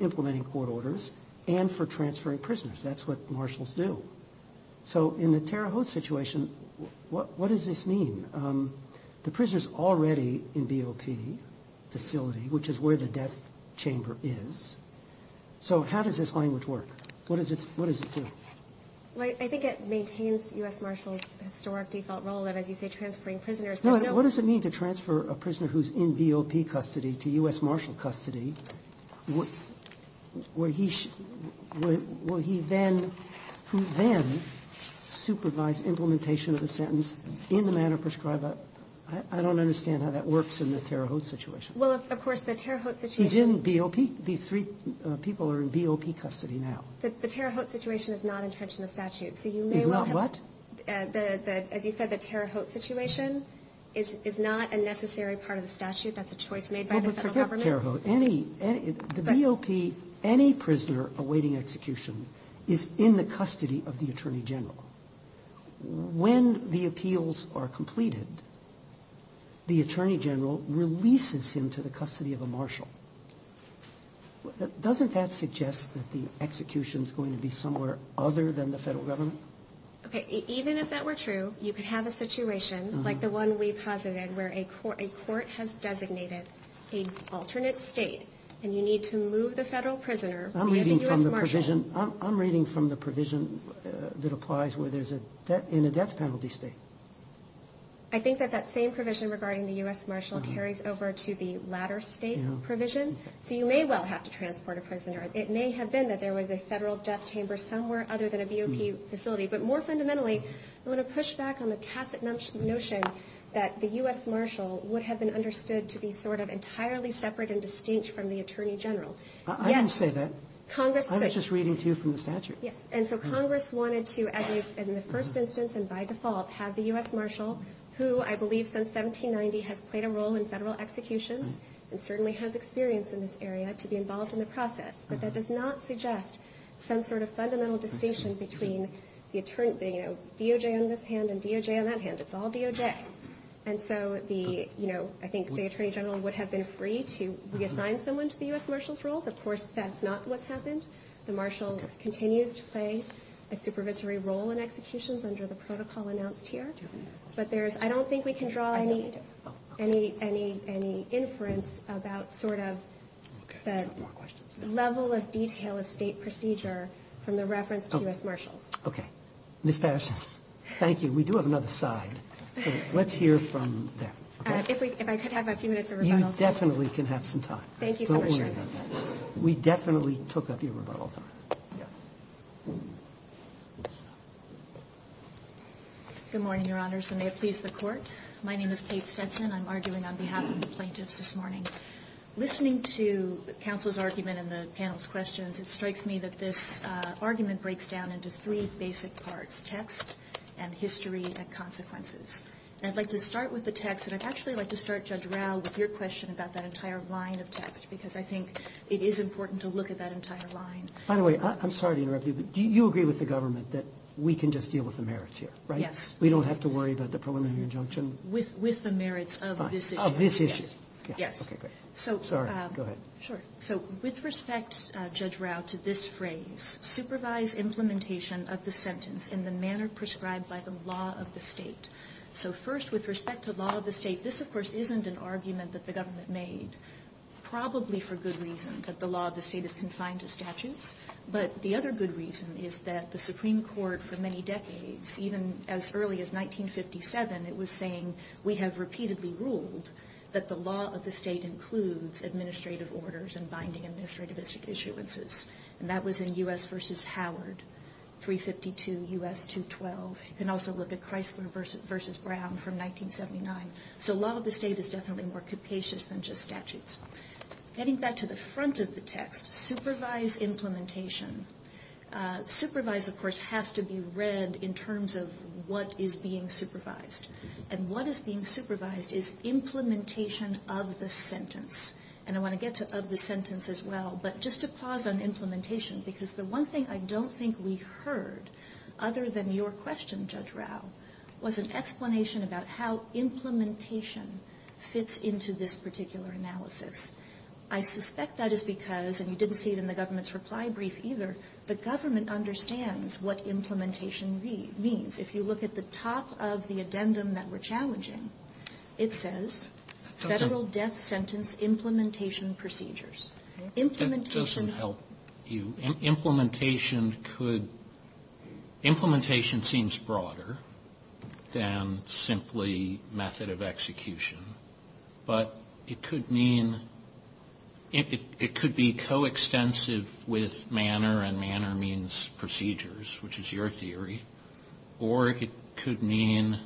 implementing court orders and for transferring prisoners. That's what Marshals do. So in the Terre Haute situation, what does this mean? The prisoner's already in BOP facility, which is where the death chamber is. So how does this language work? What does it do? I think it maintains U.S. Marshals' historic default role, that as you say, transferring prisoners. What does it mean to transfer a prisoner who's in BOP custody to U.S. Marshal custody, where he then supervise implementation of the sentence in the manner prescribed? I don't understand how that works in the Terre Haute situation. Well, of course, the Terre Haute situation. He's in BOP. These three people are in BOP custody now. The Terre Haute situation is not in terms of the statute. Is not what? As you said, the Terre Haute situation is not a necessary part of the statute. That's a choice made by the federal government. Forget Terre Haute. The BOP, any prisoner awaiting execution is in the custody of the Attorney General. When the appeals are completed, the Attorney General releases him to the custody of a Marshal. Doesn't that suggest that the execution is going to be somewhere other than the federal government? Okay. Even if that were true, you could have a situation like the one we posited, where a court has designated an alternate state, and you need to move the federal prisoner to the U.S. Marshal. I'm reading from the provision that applies where there's a death penalty state. I think that that same provision regarding the U.S. Marshal carries over to the latter state provision. So you may well have to transport a prisoner. It may have been that there was a federal death chamber somewhere other than a BOP facility. But more fundamentally, I want to push back on the tacit notion that the U.S. Marshal would have been understood to be sort of entirely separate and distinct from the Attorney General. I didn't say that. I was just reading to you from the statute. And so Congress wanted to, at least in the first instance and by default, have the U.S. Marshal, who I believe since 1790 has played a role in federal execution and certainly has experience in this area, to be involved in the process. But that does not suggest some sort of fundamental distinction between the Attorney General, DOJ on this hand and DOJ on that hand. It's all DOJ. And so I think the Attorney General would have been free to reassign someone to the U.S. Marshal's role. Of course, that's not what's happened. The Marshal continues to play a supervisory role in executions under the protocol announced here. But I don't think we can draw any inference about sort of the level of detail of state procedure from the reference to U.S. Marshal. Okay. Ms. Patterson, thank you. We do have another slide. Let's hear from that. If I could have a few minutes of rebuttal. You definitely can have some time. Thank you, Mr. Chairman. We definitely took up your rebuttal. Good morning, Your Honors. May it please the Court. My name is Kate Stetson. I'm arguing on behalf of the plaintiffs this morning. Listening to counsel's argument and the panel's questions, it strikes me that this argument breaks down into three basic parts, text and history and consequences. I'd like to start with the text, and I'd actually like to start, Judge Rau, with your question about that entire line of text because I think it is important to look at that entire line. By the way, I'm sorry to interrupt you, but do you agree with the government that we can just deal with the merits here, right? Yes. We don't have to worry about the preliminary injunction? With the merits of this issue. Of this issue. Yes. Okay, great. Sorry. Go ahead. Sure. So, with respect, Judge Rau, to this phrase, supervise implementation of the sentence in the manner prescribed by the law of the state. So, first, with respect to the law of the state, this, of course, isn't an argument that the government made, probably for good reason, that the law of the state is consigned to statute. But the other good reason is that the Supreme Court, for many decades, even as early as 1957, it was saying we have repeatedly ruled that the law of the state includes administrative orders and binding administrative issuances. And that was in U.S. v. Howard, 352 U.S. 212. You can also look at Chrysler v. Brown from 1979. So, the law of the state is definitely more capacious than just statutes. Getting back to the front of the text, supervise implementation. Supervise, of course, has to be read in terms of what is being supervised. And what is being supervised is implementation of the sentence. And I want to get to of the sentence as well. But just to pause on implementation, because the one thing I don't think we heard, other than your question, Judge Rao, was an explanation about how implementation fits into this particular analysis. I suspect that is because, and you didn't see it in the government's reply brief either, the government understands what implementation means. If you look at the top of the addendum that we're challenging, it says federal death sentence implementation procedures. That doesn't help you. Implementation could, implementation seems broader than simply method of execution. But it could mean, it could be coextensive with manner, and manner means procedures, which is your theory. Or it could mean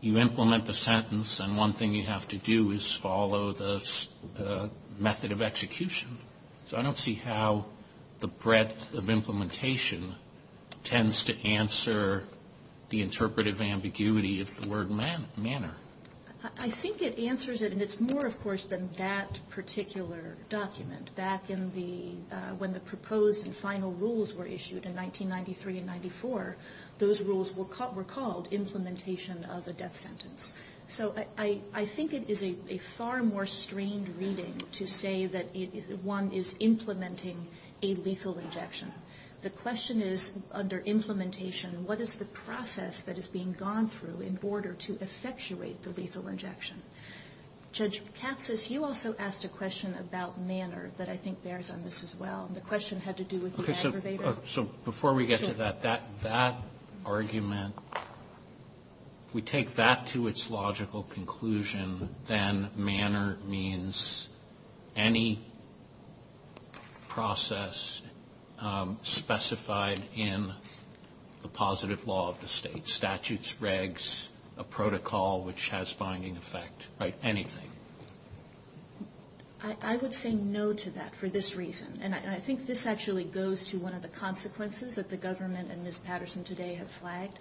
you implement the sentence, and one thing you have to do is follow the method of execution. So I don't see how the breadth of implementation tends to answer the interpretive ambiguity of the word manner. I think it answers it, and it's more, of course, than that particular document. Back in the, when the proposed and final rules were issued in 1993 and 94, those rules were called implementation of the death sentence. So I think it is a far more strained reading to say that one is implementing a lethal injection. The question is, under implementation, what is the process that is being gone through in order to effectuate the lethal injection? Judge Katsas, you also asked a question about manner that I think bears on this as well, and the question had to do with the aggravator. So before we get to that, that argument, we take that to its logical conclusion, then manner means any process specified in the positive law of the state. Statutes, regs, a protocol which has binding effect, right, anything. I would say no to that for this reason. And I think this actually goes to one of the consequences that the government and Ms. Patterson today have flagged.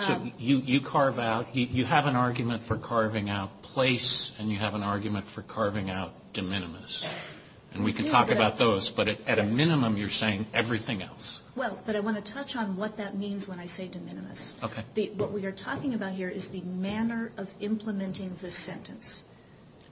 So you carve out, you have an argument for carving out place, and you have an argument for carving out de minimis. And we can talk about those, but at a minimum, you're saying everything else. Well, but I want to touch on what that means when I say de minimis. Okay. What we are talking about here is the manner of implementing the sentence.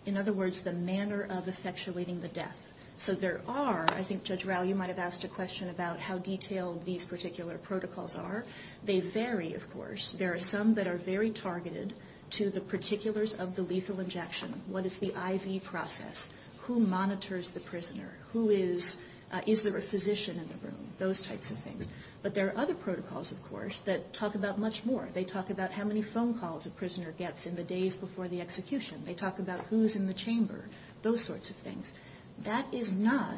In other words, the manner of effectuating the death. So there are, I think Judge Rao, you might have asked a question about how detailed these particular protocols are. They vary, of course. There are some that are very targeted to the particulars of the lethal injection. What is the IV process? Who monitors the prisoner? Who is, is there a physician in the room? Those types of things. But there are other protocols, of course, that talk about much more. They talk about how many phone calls a prisoner gets in the days before the execution. They talk about who is in the chamber. Those sorts of things. That is not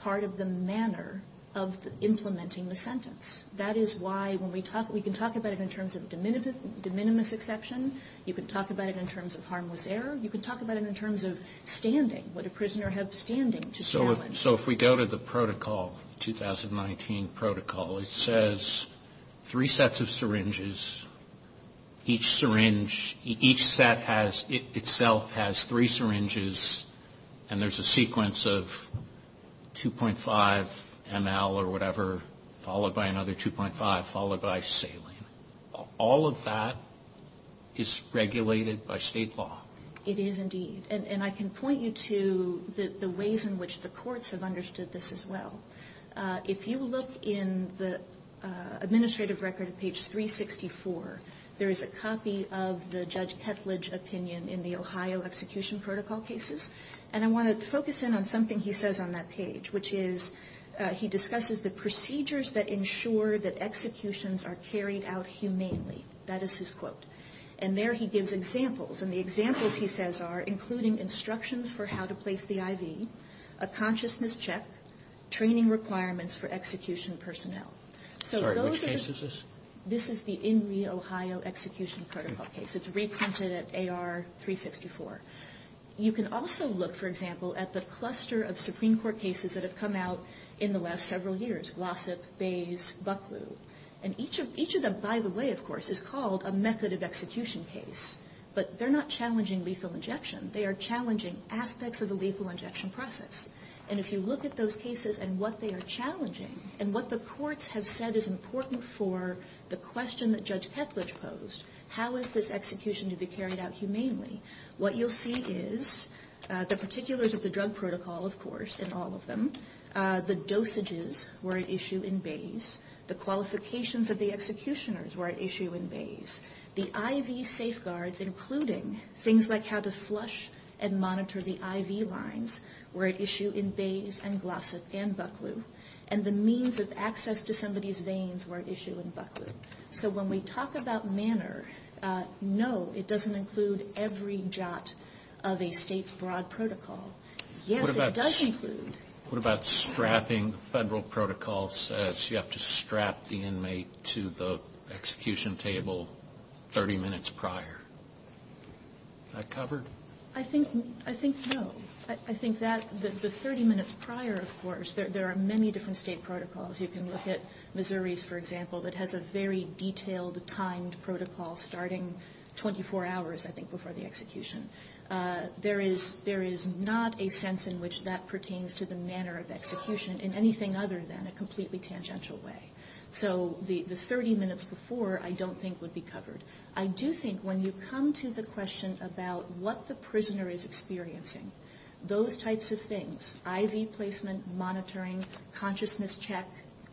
part of the manner of implementing the sentence. That is why when we talk, we can talk about it in terms of de minimis exception. You can talk about it in terms of harmless error. You can talk about it in terms of standing, what a prisoner had standing. So if we go to the protocol, the 2019 protocol, it says three sets of syringes. Each syringe, each set itself has three syringes and there is a sequence of 2.5 ml or whatever, followed by another 2.5, followed by saline. All of that is regulated by state law. It is indeed. And I can point you to the ways in which the courts have understood this as well. If you look in the administrative record of page 364, there is a copy of the Judge Ketledge opinion in the Ohio execution protocol cases. And I want to focus in on something he says on that page, which is he discusses the procedures that ensure that executions are carried out humanely. That is his quote. And there he gives examples. And the examples he says are including instructions for how to place the IV, a consciousness check, training requirements for execution personnel. Sorry, which case is this? This is the in the Ohio execution protocol case. It is reprinted at AR 354. You can also look, for example, at the cluster of Supreme Court cases that have come out in the last several years, Glossip, Bays, Bucklew. And each of them, by the way, of course, is called a method of execution case. But they're not challenging lethal injection. They are challenging aspects of the lethal injection process. And if you look at those cases and what they are challenging and what the courts have said is important for the question that Judge Ketledge posed, how is this execution to be carried out humanely, what you'll see is the particulars of the drug protocol, of course, in all of them. The dosages were an issue in Bays. The qualifications of the executioners were an issue in Bays. The IV safeguards, including things like how to flush and monitor the IV lines, were an issue in Bays and Glossip and Bucklew. And the means of access to somebody's veins were an issue in Bucklew. So when we talk about manner, no, it doesn't include every jot of a state's broad protocol. Yes, it does include. What about strapping federal protocols as you have to strap the inmate to the execution table 30 minutes prior? Is that covered? I think no. I think that the 30 minutes prior, of course, there are many different state protocols. You can look at Missouri's, for example, that has a very detailed, timed protocol starting 24 hours, I think, before the execution. There is not a sense in which that pertains to the manner of execution in anything other than a completely tangential way. So the 30 minutes before I don't think would be covered. I do think when you come to the question about what the prisoner is experiencing, those types of things, IV placement, monitoring, consciousness check,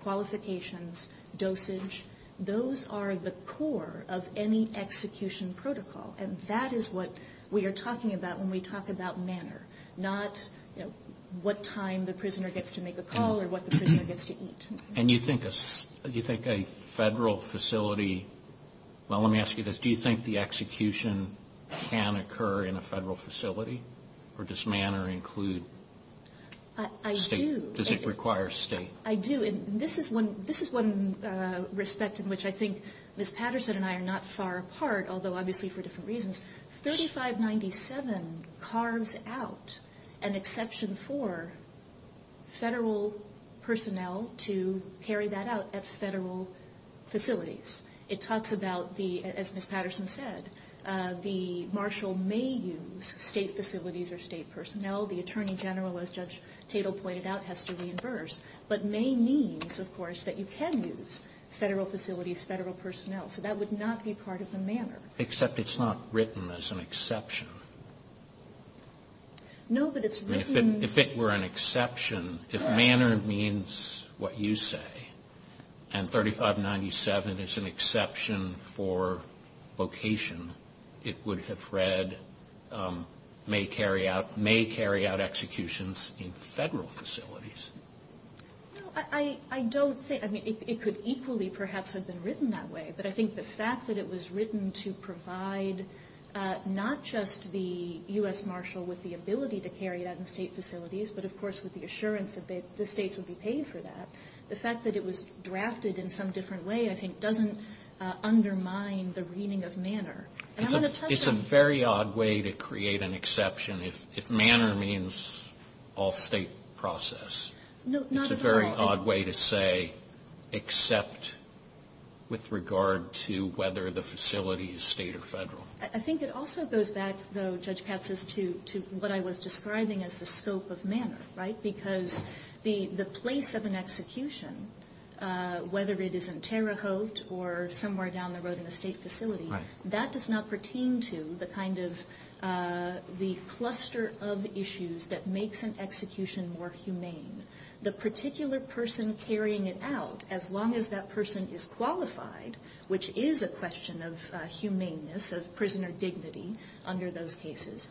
qualifications, dosage, those are the core of any execution protocol. And that is what we are talking about when we talk about manner, not what time the prisoner gets to make a call or what the prisoner gets to eat. And you think a federal facility, well, let me ask you this, do you think the execution can occur in a federal facility? Or does manner include state? I do. Does it require state? I do. And this is one respect in which I think Ms. Patterson and I are not far apart, although obviously for different reasons. 3597 carves out an exception for federal personnel to carry that out at federal facilities. It talks about the, as Ms. Patterson said, the marshal may use state facilities or state personnel. The attorney general, as Judge Tatel pointed out, has to reimburse. But may means, of course, that you can use federal facilities, federal personnel. So that would not be part of the manner. Except it's not written as an exception. No, but it's written. If it were an exception, if manner means what you say, and 3597 is an exception for location, it would have read may carry out executions in federal facilities. I don't think, I mean, it could equally perhaps have been written that way. But I think the fact that it was written to provide not just the U.S. marshal with the ability to carry out in state facilities, but of course with the assurance that the states would be paid for that, the fact that it was drafted in some different way, I think doesn't undermine the meaning of manner. It's a very odd way to create an exception if manner means all state process. No, not at all. It's a very odd way to say except with regard to whether the facility is state or federal. I think it also goes back, though, Judge Katz, to what I was describing as the scope of manner, right? Because the place of an execution, whether it is in Terre Haute or somewhere down the road in a state facility, that does not pertain to the kind of the cluster of issues that makes an execution more humane. The particular person carrying it out, as long as that person is qualified, which is a question of humaneness, of prisoner dignity under those cases,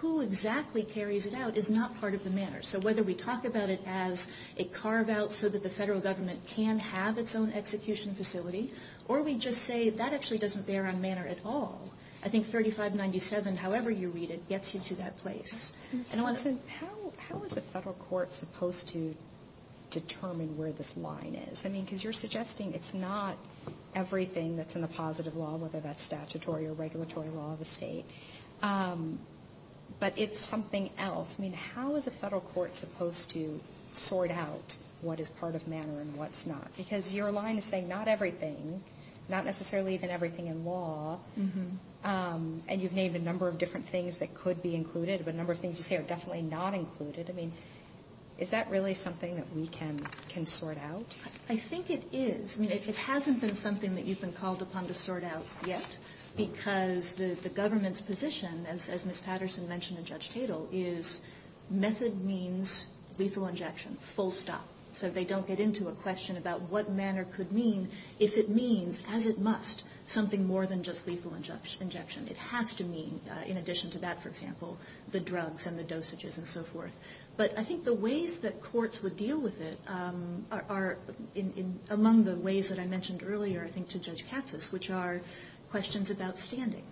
who exactly carries it out is not part of the manner. So whether we talk about it as a carve-out so that the federal government can have its own execution facility, or we just say that actually doesn't bear on manner at all, I think 3597, however you read it, gets you to that place. How is a federal court supposed to determine where this line is? I mean, because you're suggesting it's not everything that's in the positive law, whether that's statutory or regulatory law of the state, but it's something else. I mean, how is a federal court supposed to sort out what is part of manner and what's not? Because your line is saying not everything, not necessarily even everything in law, and you've named a number of different things that could be included, but a number of things you say are definitely not included. I mean, is that really something that we can sort out? I think it is. I mean, if it hasn't been something that you've been called upon to sort out yet, because the government's position, as Ms. Patterson mentioned and Judge Teutel, is method means lethal injection, full stop. So they don't get into a question about what manner could mean if it means, as it must, something more than just lethal injection. It has to mean, in addition to that, for example, the drugs and the dosages and so forth. But I think the ways that courts would deal with it are among the ways that I mentioned earlier, I think, to Judge Katsas, which are questions about standing.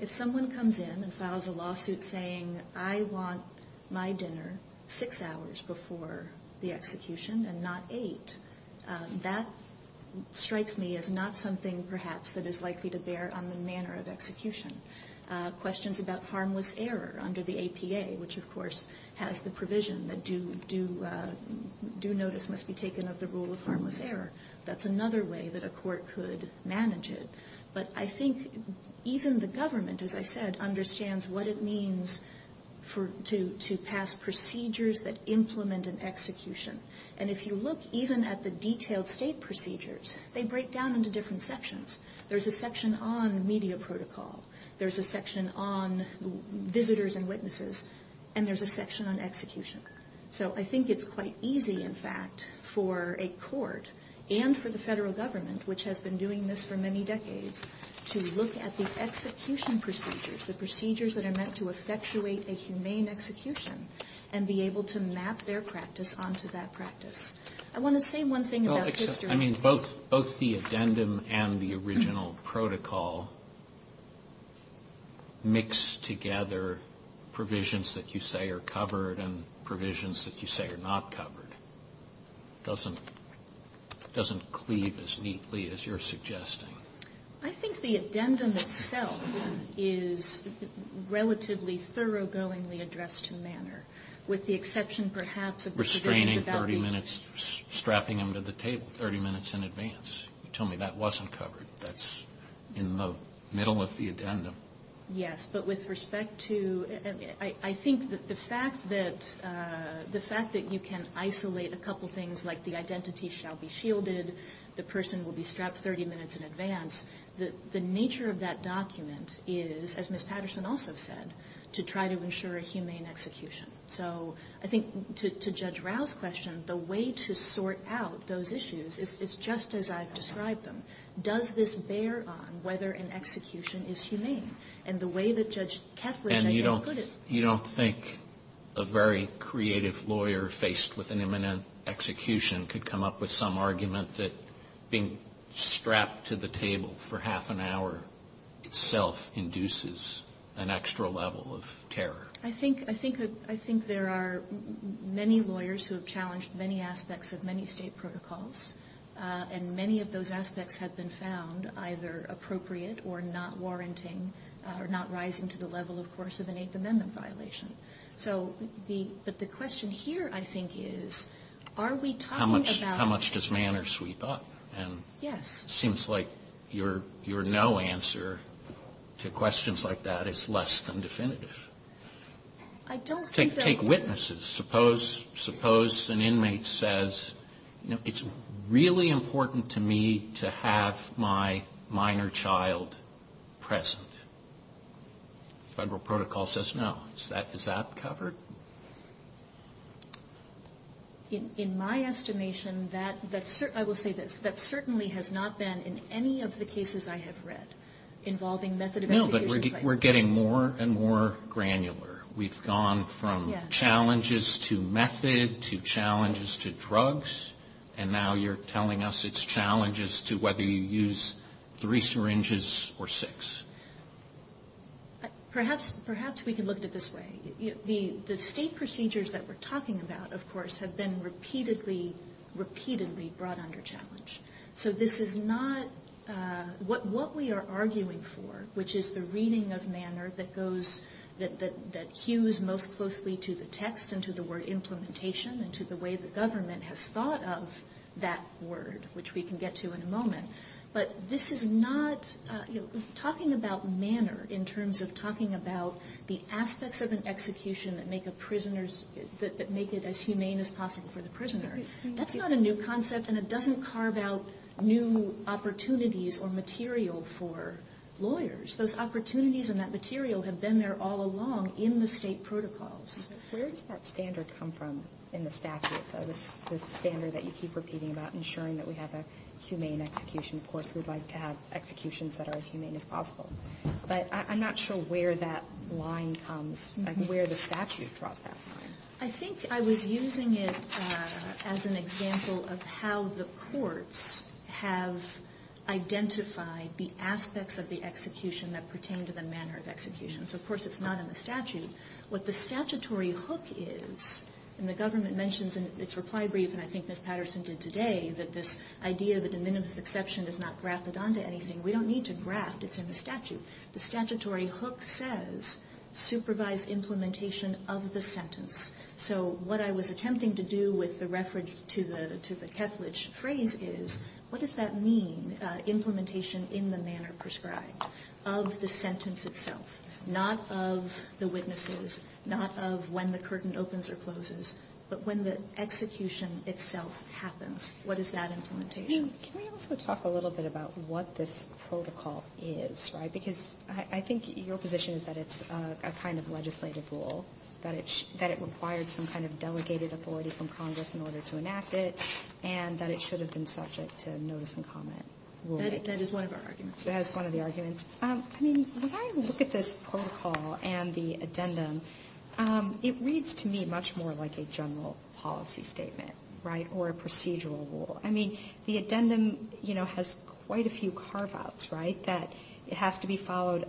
If someone comes in and files a lawsuit saying, I want my dinner six hours before the execution and not eight, that strikes me as not something, perhaps, that is likely to bear on the manner of execution. Questions about harmless error under the APA, which, of course, has the provision that due notice must be taken of the rule of harmless error. That's another way that a court could manage it. But I think even the government, as I said, understands what it means to pass procedures that implement an execution. And if you look even at the detailed state procedures, they break down into different sections. There's a section on media protocol. There's a section on visitors and witnesses. And there's a section on execution. So I think it's quite easy, in fact, for a court, and for the federal government, which has been doing this for many decades, to look at the execution procedures, the procedures that are meant to effectuate a humane execution, and be able to map their practice onto that practice. I want to say one thing about this. I mean, both the addendum and the original protocol mix together provisions that you say are covered and provisions that you say are not covered. It doesn't cleave as neatly as you're suggesting. I think the addendum itself is relatively thoroughgoingly addressed in manner, with the exception, perhaps, of the provision about the- Restraining 30 minutes, strapping them to the table 30 minutes in advance. You told me that wasn't covered. That's in the middle of the addendum. Yes, but with respect to – I think that the fact that you can isolate a couple things, like the identity shall be shielded, the person will be strapped 30 minutes in advance, the nature of that document is, as Ms. Patterson also said, to try to ensure a humane execution. So I think to Judge Rouse's question, the way to sort out those issues, it's just as I've described them. Does this bear on whether an execution is humane? And the way that Judge Keffrey put it- And you don't think a very creative lawyer faced with an imminent execution could come up with some argument that being strapped to the table for half an hour itself induces an extra level of terror? I think there are many lawyers who have challenged many aspects of many state protocols, and many of those aspects have been found either appropriate or not warranting or not rising to the level, of course, of an Eighth Amendment violation. But the question here, I think, is, are we talking about- How much does manner sweep up? And it seems like your no answer to questions like that is less than definitive. I don't think that- Take witnesses. Suppose an inmate says, it's really important to me to have my minor child present. Federal protocol says no. Is that covered? In my estimation, I will say this, that certainly has not been in any of the cases I have read involving method of execution. No, but we're getting more and more granular. And now you're telling us it's challenges to whether you use three syringes or six. Perhaps we can look at it this way. The state procedures that we're talking about, of course, have been repeatedly brought under challenge. So this is not- What we are arguing for, which is the reading of manner that goes- to the way the government has thought of that word, which we can get to in a moment. But this is not- Talking about manner in terms of talking about the aspects of an execution that make it as humane as possible for the prisoner, that's not a new concept, and it doesn't carve out new opportunities or material for lawyers. Those opportunities and that material have been there all along in the state protocols. Where does that standard come from in the statute? The standard that you keep repeating about ensuring that we have a humane execution. Of course, we'd like to have executions that are as humane as possible. But I'm not sure where that line comes, where the statute brought that line. I think I was using it as an example of how the courts have identified the aspects of the execution that pertain to the manner of execution. What the statutory hook is, and the government mentions in its reply brief, and I think Ms. Patterson did today, that this idea that the minimum exception does not graft it onto anything. We don't need to graft, it's in the statute. The statutory hook says, supervise implementation of the sentence. So what I was attempting to do with the reference to the Ketledge phrase is, what does that mean, implementation in the manner prescribed of the sentence itself? Not of the witnesses, not of when the curtain opens or closes, but when the execution itself happens. What is that implementation? Can we also talk a little bit about what this protocol is? Because I think your position is that it's a kind of legislative rule, that it required some kind of delegated authority from Congress in order to enact it, and that it should have been subject to notice and comment. That is one of our arguments. That is one of the arguments. I mean, when I look at this protocol and the addendum, it reads to me much more like a general policy statement or a procedural rule. I mean, the addendum has quite a few carve-outs that have to be followed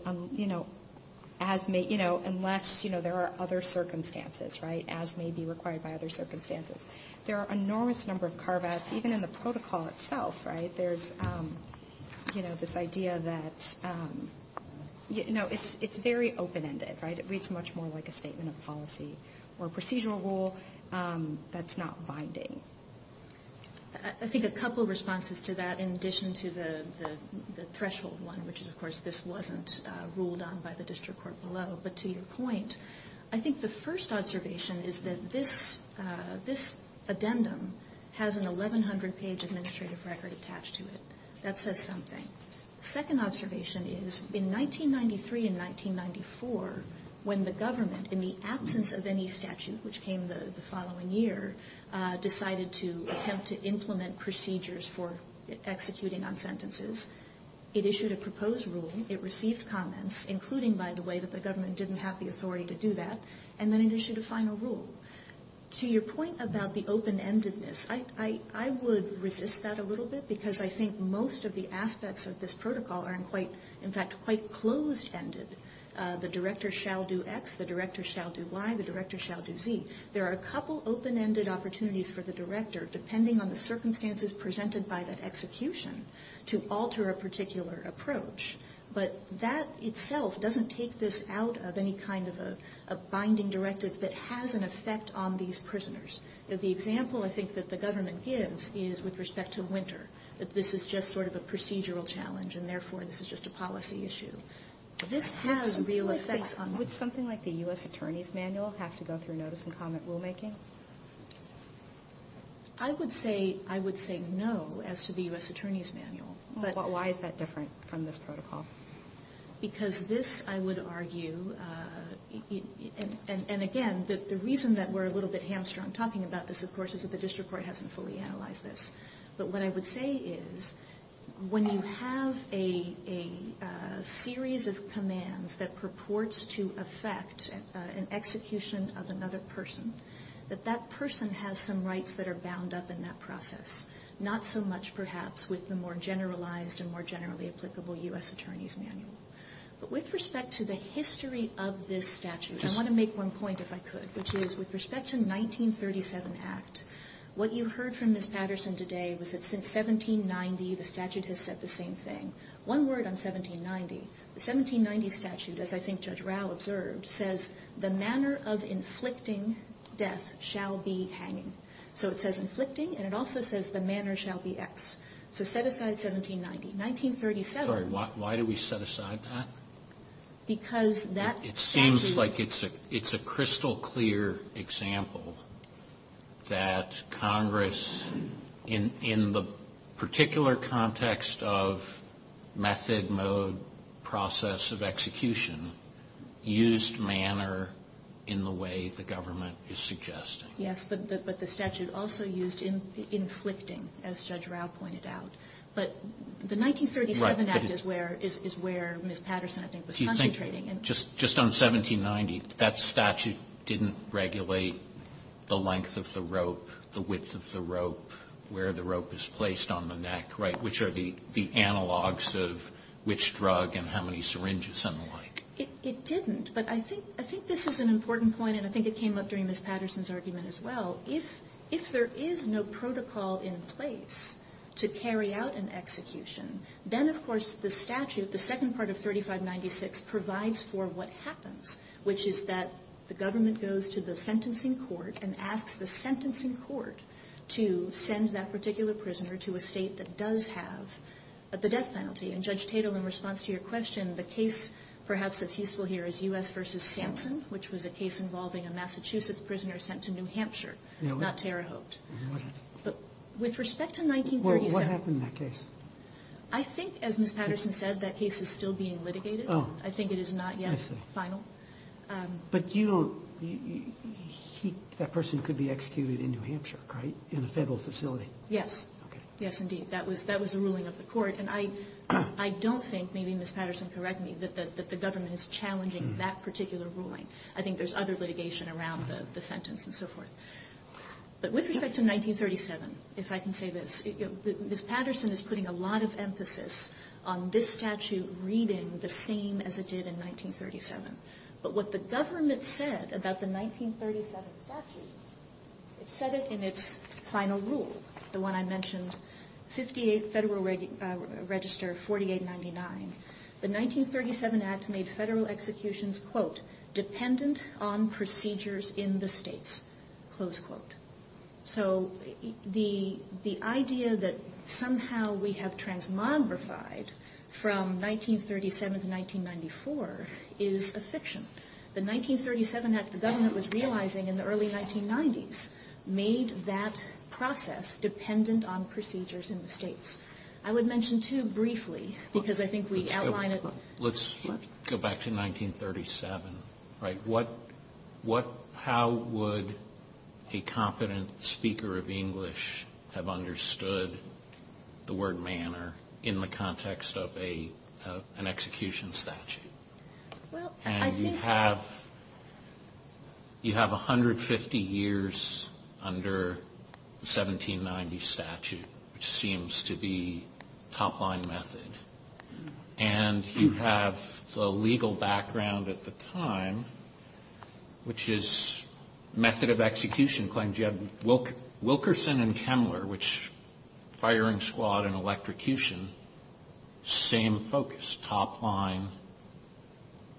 unless there are other circumstances, as may be required by other circumstances. There are an enormous number of carve-outs. Even in the protocol itself, right, there's, you know, this idea that, you know, it's very open-ended, right? It reads much more like a statement of policy or procedural rule that's not binding. I think a couple of responses to that, in addition to the threshold one, which is, of course, this wasn't ruled on by the district court below, but to your point, I think the first observation is that this addendum has an 1,100-page administrative record attached to it. That says something. The second observation is, in 1993 and 1994, when the government, in the absence of any statute, which came the following year, decided to attempt to implement procedures for executing on sentences, it issued a proposed rule. It received comments, including, by the way, that the government didn't have the authority to do that, and then it issued a final rule. To your point about the open-endedness, I would resist that a little bit, because I think most of the aspects of this protocol are, in fact, quite closed-ended. The director shall do X, the director shall do Y, the director shall do Z. depending on the circumstances presented by the execution, to alter a particular approach. But that itself doesn't take this out of any kind of a binding directive that has an effect on these prisoners. The example, I think, that the government gives is with respect to winter, that this is just sort of a procedural challenge, and therefore this is just a policy issue. This has real effect on... Would something like the U.S. Attorney's Manual have to go through notice-and-comment rulemaking? I would say no as to the U.S. Attorney's Manual. Why is that different from this protocol? Because this, I would argue, and again, the reason that we're a little bit hamstrung talking about this, of course, is that the district court hasn't fully analyzed this. But what I would say is when you have a series of commands that purports to affect an execution of another person, that that person has some rights that are bound up in that process. Not so much, perhaps, with the more generalized and more generally applicable U.S. Attorney's Manual. But with respect to the history of this statute, I want to make one point, if I could, which is with respect to the 1937 Act, what you heard from Ms. Patterson today was that since 1790, the statute has said the same thing. One word on 1790. The 1790 statute, as I think Judge Rao observed, says, the manner of inflicting death shall be hanging. So it says inflicting, and it also says the manner shall be X. So set aside 1790. Sorry, why do we set aside that? Because that statute... It seems like it's a crystal clear example that Congress, in the particular context of method, mode, process of execution, used manner in the way the government is suggesting. Yes, but the statute also used inflicting, as Judge Rao pointed out. But the 1937 Act is where Ms. Patterson, I think, was concentrating. Just on 1790, that statute didn't regulate the length of the rope, the width of the rope, where the rope is placed on the neck, right, which are the analogs of which drug and how many syringes and the like. It didn't, but I think this is an important point, and I think it came up during Ms. Patterson's argument as well. If there is no protocol in place to carry out an execution, then, of course, the statute, the second part of 3596, provides for what happens, which is that the government goes to the sentencing court and asks the sentencing court to send that particular prisoner to a state that does have the death penalty. And, Judge Tatum, in response to your question, the case, perhaps, that he will hear is U.S. v. Samson, which was a case involving a Massachusetts prisoner sent to New Hampshire, not Terre Haute. With respect to 1937... I think, as Ms. Patterson said, that case is still being litigated. I think it is not yet final. But that person could be executed in New Hampshire, right, in a federal facility? Yes. Yes, indeed. That was the ruling of the court. And I don't think, maybe Ms. Patterson can correct me, that the government is challenging that particular ruling. I think there's other litigation around the sentence and so forth. But with respect to 1937, if I can say this, Ms. Patterson is putting a lot of emphasis on this statute reading the same as it did in 1937. But what the government said about the 1937 statute, it said it in its final rule, the one I mentioned, 58th Federal Register, 4899. The 1937 act made federal executions, quote, dependent on procedures in the states, close quote. So the idea that somehow we have transmogrified from 1937 to 1994 is a fiction. The 1937 act the government was realizing in the early 1990s made that process dependent on procedures in the states. I would mention too, briefly, because I think we outlined it... Let's go back to 1937. How would a competent speaker of English have understood the word manner in the context of an execution statute? And you have 150 years under 1790 statute, which seems to be top line method. And you have the legal background at the time, which is method of execution. You have Wilkerson and Kemler, which, firing squad and electrocution, same focus, top line,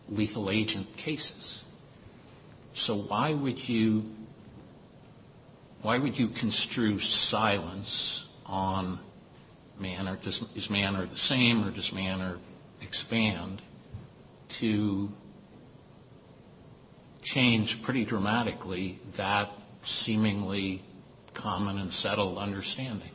lethal agent cases. So why would you construe silence on is manner the same or does manner expand to change pretty dramatically that seemingly common and settled understanding?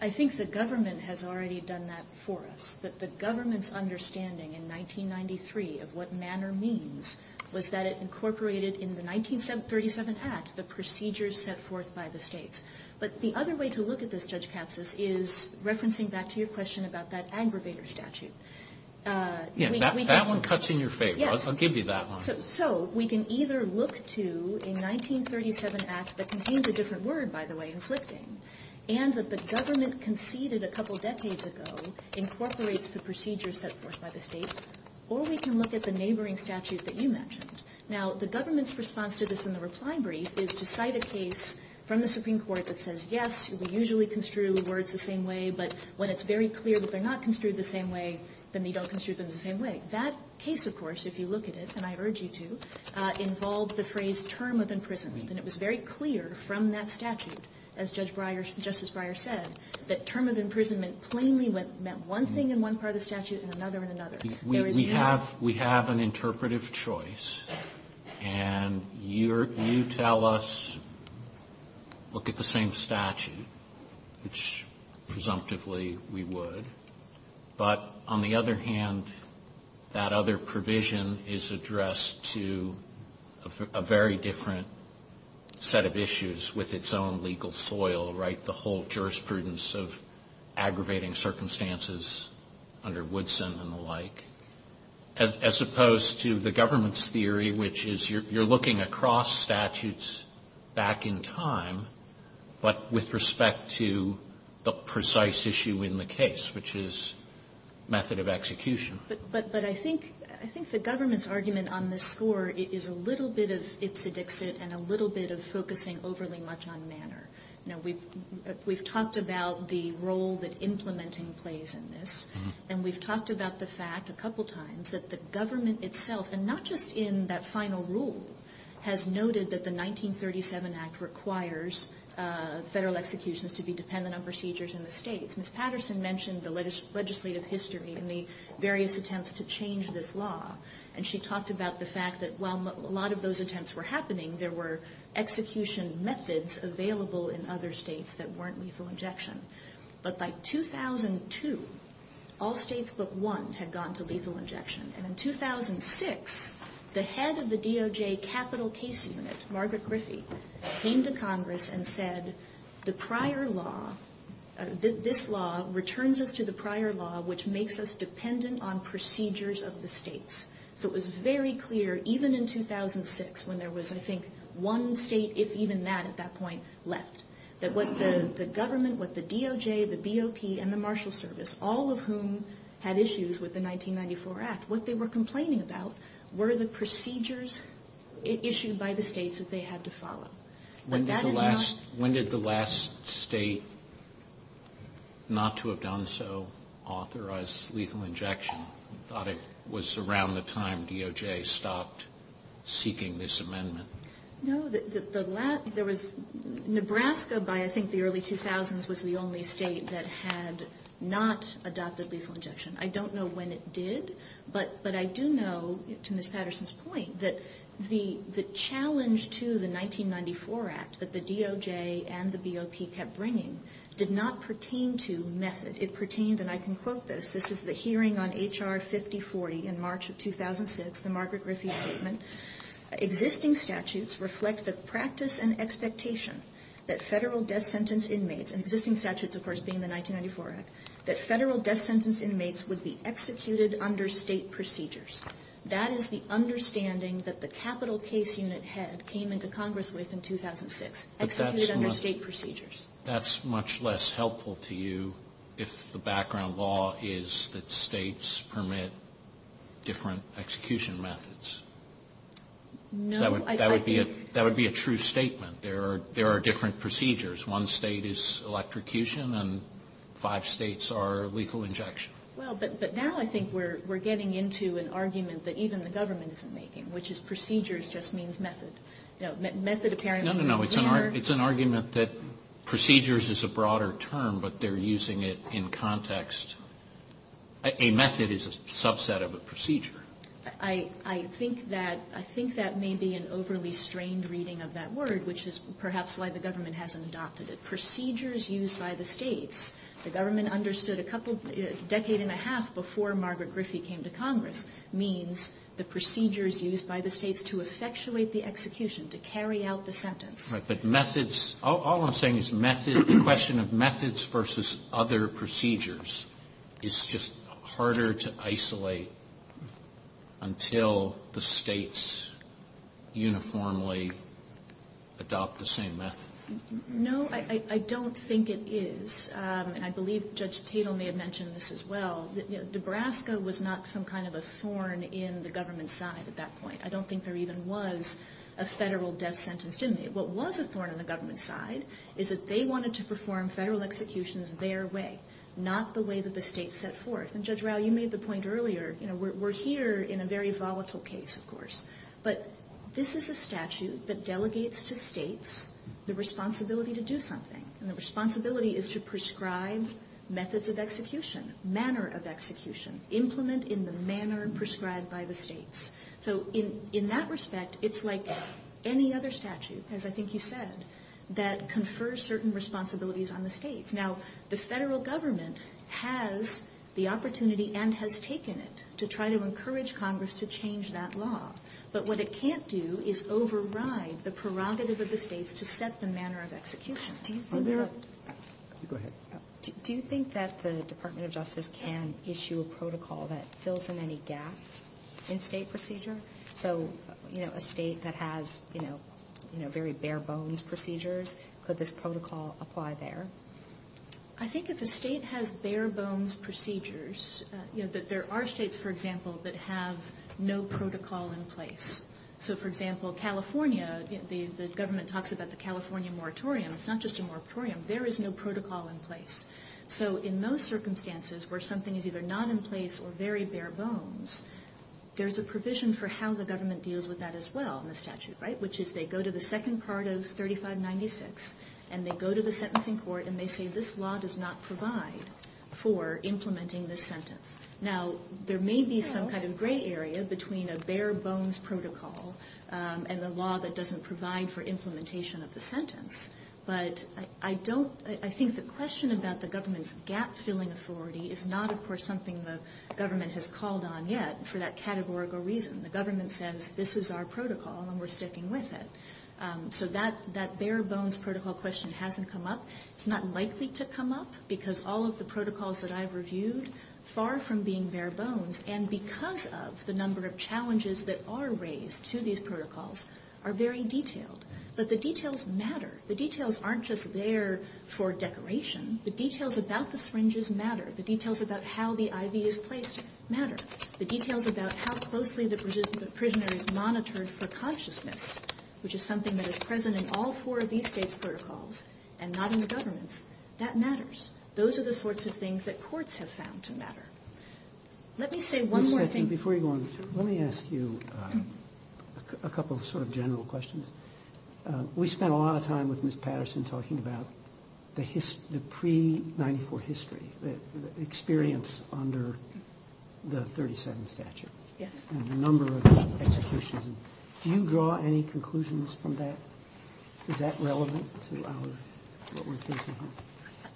I think the government has already done that for us. But the government's understanding in 1993 of what manner means was that it incorporated in the 1937 act the procedures set forth by the states. But the other way to look at this, Judge Katz, is referencing back to your question about that aggravator statute. That one cuts in your favor. I'll give you that one. So we can either look to a 1937 act that contains a different word, by the way, and that the government conceded a couple decades ago incorporates the procedures set forth by the states. Or we can look at the neighboring statute that you mentioned. Now, the government's response to this in the reply brief is to cite a case from the Supreme Court that says, yes, we usually construe words the same way. But when it's very clear that they're not construed the same way, then you don't construe them the same way. That case, of course, if you look at it, and I urge you to, involves the phrase term of imprisonment. And it was very clear from that statute, as Justice Breyer said, that term of imprisonment plainly meant one thing in one part of the statute and another in another. We have an interpretive choice. And you tell us, look at the same statute, which presumptively we would. But on the other hand, that other provision is addressed to a very different set of issues with its own legal soil, right? The whole jurisprudence of aggravating circumstances under Woodson and the like, as opposed to the government's theory, which is you're looking across statutes back in time, but with respect to the precise issue in the case, which is method of execution. But I think the government's argument on this score is a little bit of it's a dixit and a little bit of focusing overly much on manner. You know, we've talked about the role that implementing plays in this. And we've talked about the fact a couple times that the government itself, and not just in that final rule, has noted that the 1937 Act requires federal executions to be dependent on procedures in the state. Ms. Patterson mentioned the legislative history and the various attempts to change this law. And she talked about the fact that while a lot of those attempts were happening, there were execution methods available in other states that weren't lethal injection. But by 2002, all states but one had gone to lethal injection. And in 2006, the head of the DOJ Capital Case Unit, Margaret Grissy, came to Congress and said this law returns us to the prior law, which makes us dependent on procedures of the states. So it was very clear, even in 2006, when there was I think one state, if even that at that point, left, that what the government, what the DOJ, the BOP, and the Marshal Service, all of whom had issues with the 1994 Act, what they were complaining about were the procedures issued by the states that they had to follow. When did the last state not to have done so authorize lethal injection? I thought it was around the time DOJ stopped seeking this amendment. No, Nebraska by I think the early 2000s was the only state that had not adopted lethal injection. I don't know when it did, but I do know, to Ms. Patterson's point, that the challenge to the 1994 Act that the DOJ and the BOP kept bringing did not pertain to method. It pertained, and I can quote this, this is the hearing on H.R. 5040 in March of 2006, the Margaret Riffey Statement. Existing statutes reflect the practice and expectation that federal death sentence inmates, existing statutes of course being the 1994 Act, that federal death sentence inmates would be executed under state procedures. That is the understanding that the capital case unit had came into Congress with in 2006, executed under state procedures. That's much less helpful to you if the background law is that states permit different execution methods. That would be a true statement. There are different procedures. One state is electrocution and five states are lethal injection. But now I think we're getting into an argument that even the government is making, which is procedures just means method. No, no, no. It's an argument that procedures is a broader term, but they're using it in context. A method is a subset of a procedure. I think that may be an overly strained reading of that word, which is perhaps why the government hasn't adopted it. Procedures used by the states. The government understood a decade and a half before Margaret Griffey came to Congress that procedures used by the states to effectuate the execution, to carry out the sentence. All I'm saying is the question of methods versus other procedures. It's just harder to isolate until the states uniformly adopt the same method. No, I don't think it is. I believe Judge Tatel may have mentioned this as well. Nebraska was not some kind of a thorn in the government's side at that point. I don't think there even was a federal death sentence. What was a thorn in the government's side is that they wanted to perform federal executions their way, not the way that the states set forth. Judge Rau, you made the point earlier. We're here in a very volatile case, of course. But this is a statute that delegates to states the responsibility to do something, and the responsibility is to prescribe methods of execution, manner of execution, implement in the manner prescribed by the states. So in that respect, it's like any other statute, as I think you said, that confers certain responsibilities on the states. Now, the federal government has the opportunity and has taken it to try to encourage Congress to change that law. But what it can't do is override the prerogative of the states to set the manner of execution. Go ahead. Do you think that the Department of Justice can issue a protocol that fills in any gaps in state procedure? So, you know, a state that has, you know, very bare-bones procedures, would this protocol apply there? I think if a state has bare-bones procedures, you know, that there are states, for example, that have no protocol in place. So, for example, California, the government talks about the California moratorium. It's not just a moratorium. There is no protocol in place. So in those circumstances where something is either not in place or very bare-bones, there's a provision for how the government deals with that as well in the statute, right, which is they go to the second part of 3596, and they go to the sentencing court, and they say this law does not provide for implementing this sentence. Now, there may be some kind of gray area between a bare-bones protocol and a law that doesn't provide for implementation of the sentence, but I think the question about the government's gap-filling authority is not, of course, something the government has called on yet for that categorical reason. The government says this is our protocol, and we're sticking with it. So that bare-bones protocol question hasn't come up. It's not likely to come up because all of the protocols that I've reviewed, far from being bare-bones, and because of the number of challenges that are raised to these protocols, are very detailed. But the details matter. The details aren't just there for decoration. The details about the fringes matter. The details about how the IV is placed matter. The details about how closely the prisoner is monitored for consciousness, which is something that is present in all four of these case protocols and not in the government, that matters. Those are the sorts of things that courts have found to matter. Let me say one more thing. Before you go on, let me ask you a couple of sort of general questions. We spent a lot of time with Ms. Patterson talking about the pre-'94 history, the experience under the 37th statute and a number of executions. Do you draw any conclusions from that? Is that relevant to what we're facing here?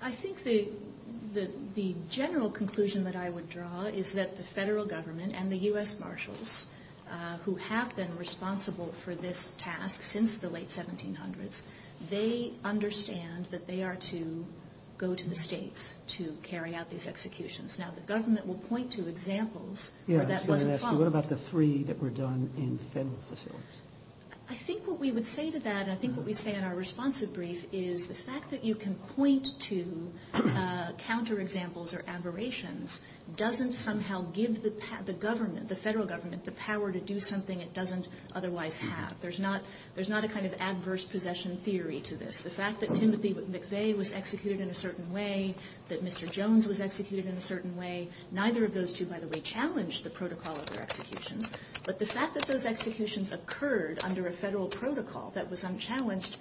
I think the general conclusion that I would draw is that the federal government and the U.S. Marshals, who have been responsible for this task since the late 1700s, they understand that they are to go to the states to carry out these executions. Now, the government will point to examples. What about the three that were done in federal facilities? I think what we would say to that, and I think what we'd say in our responsive brief, is the fact that you can point to counter-examples or aberrations doesn't somehow give the government, the federal government, the power to do something it doesn't otherwise have. There's not a kind of adverse possession theory to this. The fact that Timothy McVeigh was executed in a certain way, that Mr. Jones was executed in a certain way, neither of those two, by the way, challenged the protocol of their execution, but the fact that those executions occurred under a federal protocol that was unchallenged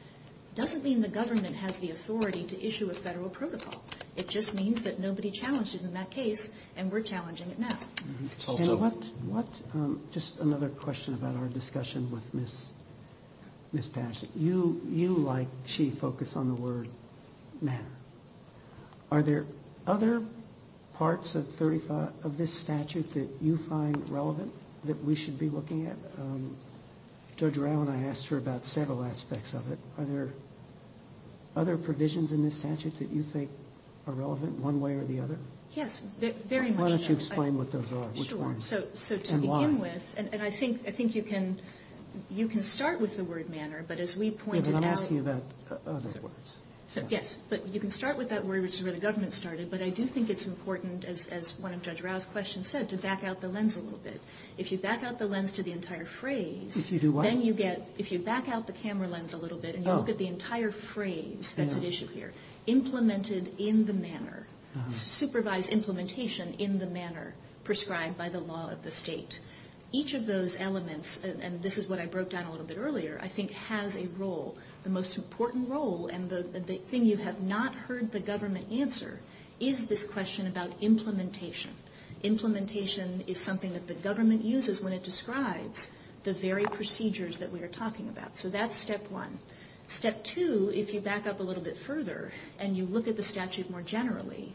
doesn't mean the government has the authority to issue a federal protocol. It just means that nobody challenged it in that case, and we're challenging it now. Just another question about our discussion with Ms. Patterson. You, like she, focus on the word manner. Are there other parts of this statute that you find relevant that we should be looking at? Judge Rowan, I asked her about several aspects of it. Are there other provisions in this statute that you think are relevant, one way or the other? Yes, very much. Why don't you explain what those are, which ones, and why? Sure, so to begin with, and I think you can start with the word manner, but as we pointed out... Yes, but you can start with that word, which is where the government started, but I do think it's important, as one of Judge Rowe's questions said, to back out the lens a little bit. If you back out the lens to the entire phrase... If you do what? If you back out the camera lens a little bit and you look at the entire phrase that's at issue here, implemented in the manner, supervised implementation in the manner prescribed by the law of the state, each of those elements, and this is what I broke down a little bit earlier, I think has a role. The most important role, and the thing you have not heard the government answer, is this question about implementation. Implementation is something that the government uses when it describes the very procedures that we are talking about. So that's step one. Step two, if you back up a little bit further and you look at the statute more generally,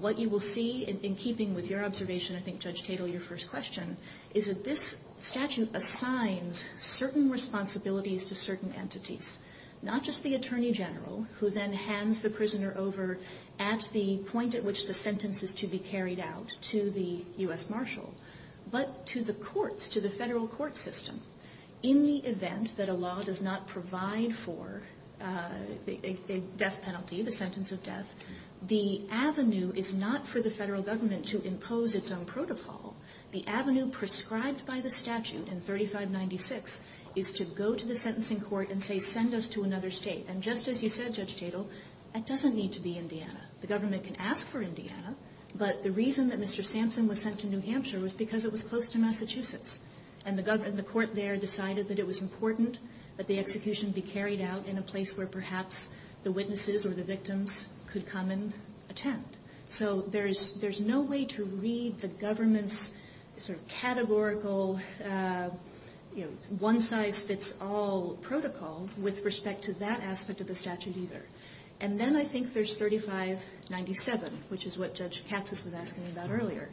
what you will see, in keeping with your observation, I think, Judge Tatel, your first question, is that this statute assigns certain responsibilities to certain entities, not just the Attorney General, who then hands the prisoner over at the point at which the sentence is to be carried out, to the U.S. Marshal, but to the courts, to the federal court system. In the event that a law does not provide for a death penalty, the sentence of death, the avenue is not for the federal government to impose its own protocol. The avenue prescribed by the statute in 3596 is to go to the sentencing court and say, send us to another state. And just as you said, Judge Tatel, that doesn't need to be Indiana. The government can ask for Indiana, but the reason that Mr. Sampson was sent to New Hampshire was because it was close to Massachusetts. And the court there decided that it was important that the execution be carried out in a place where perhaps the witnesses or the victims could come and attempt. So there's no way to read the government's sort of categorical, you know, one-size-fits-all protocol with respect to that aspect of the statute either. And then I think there's 3597, which is what Judge Katz was asking about earlier.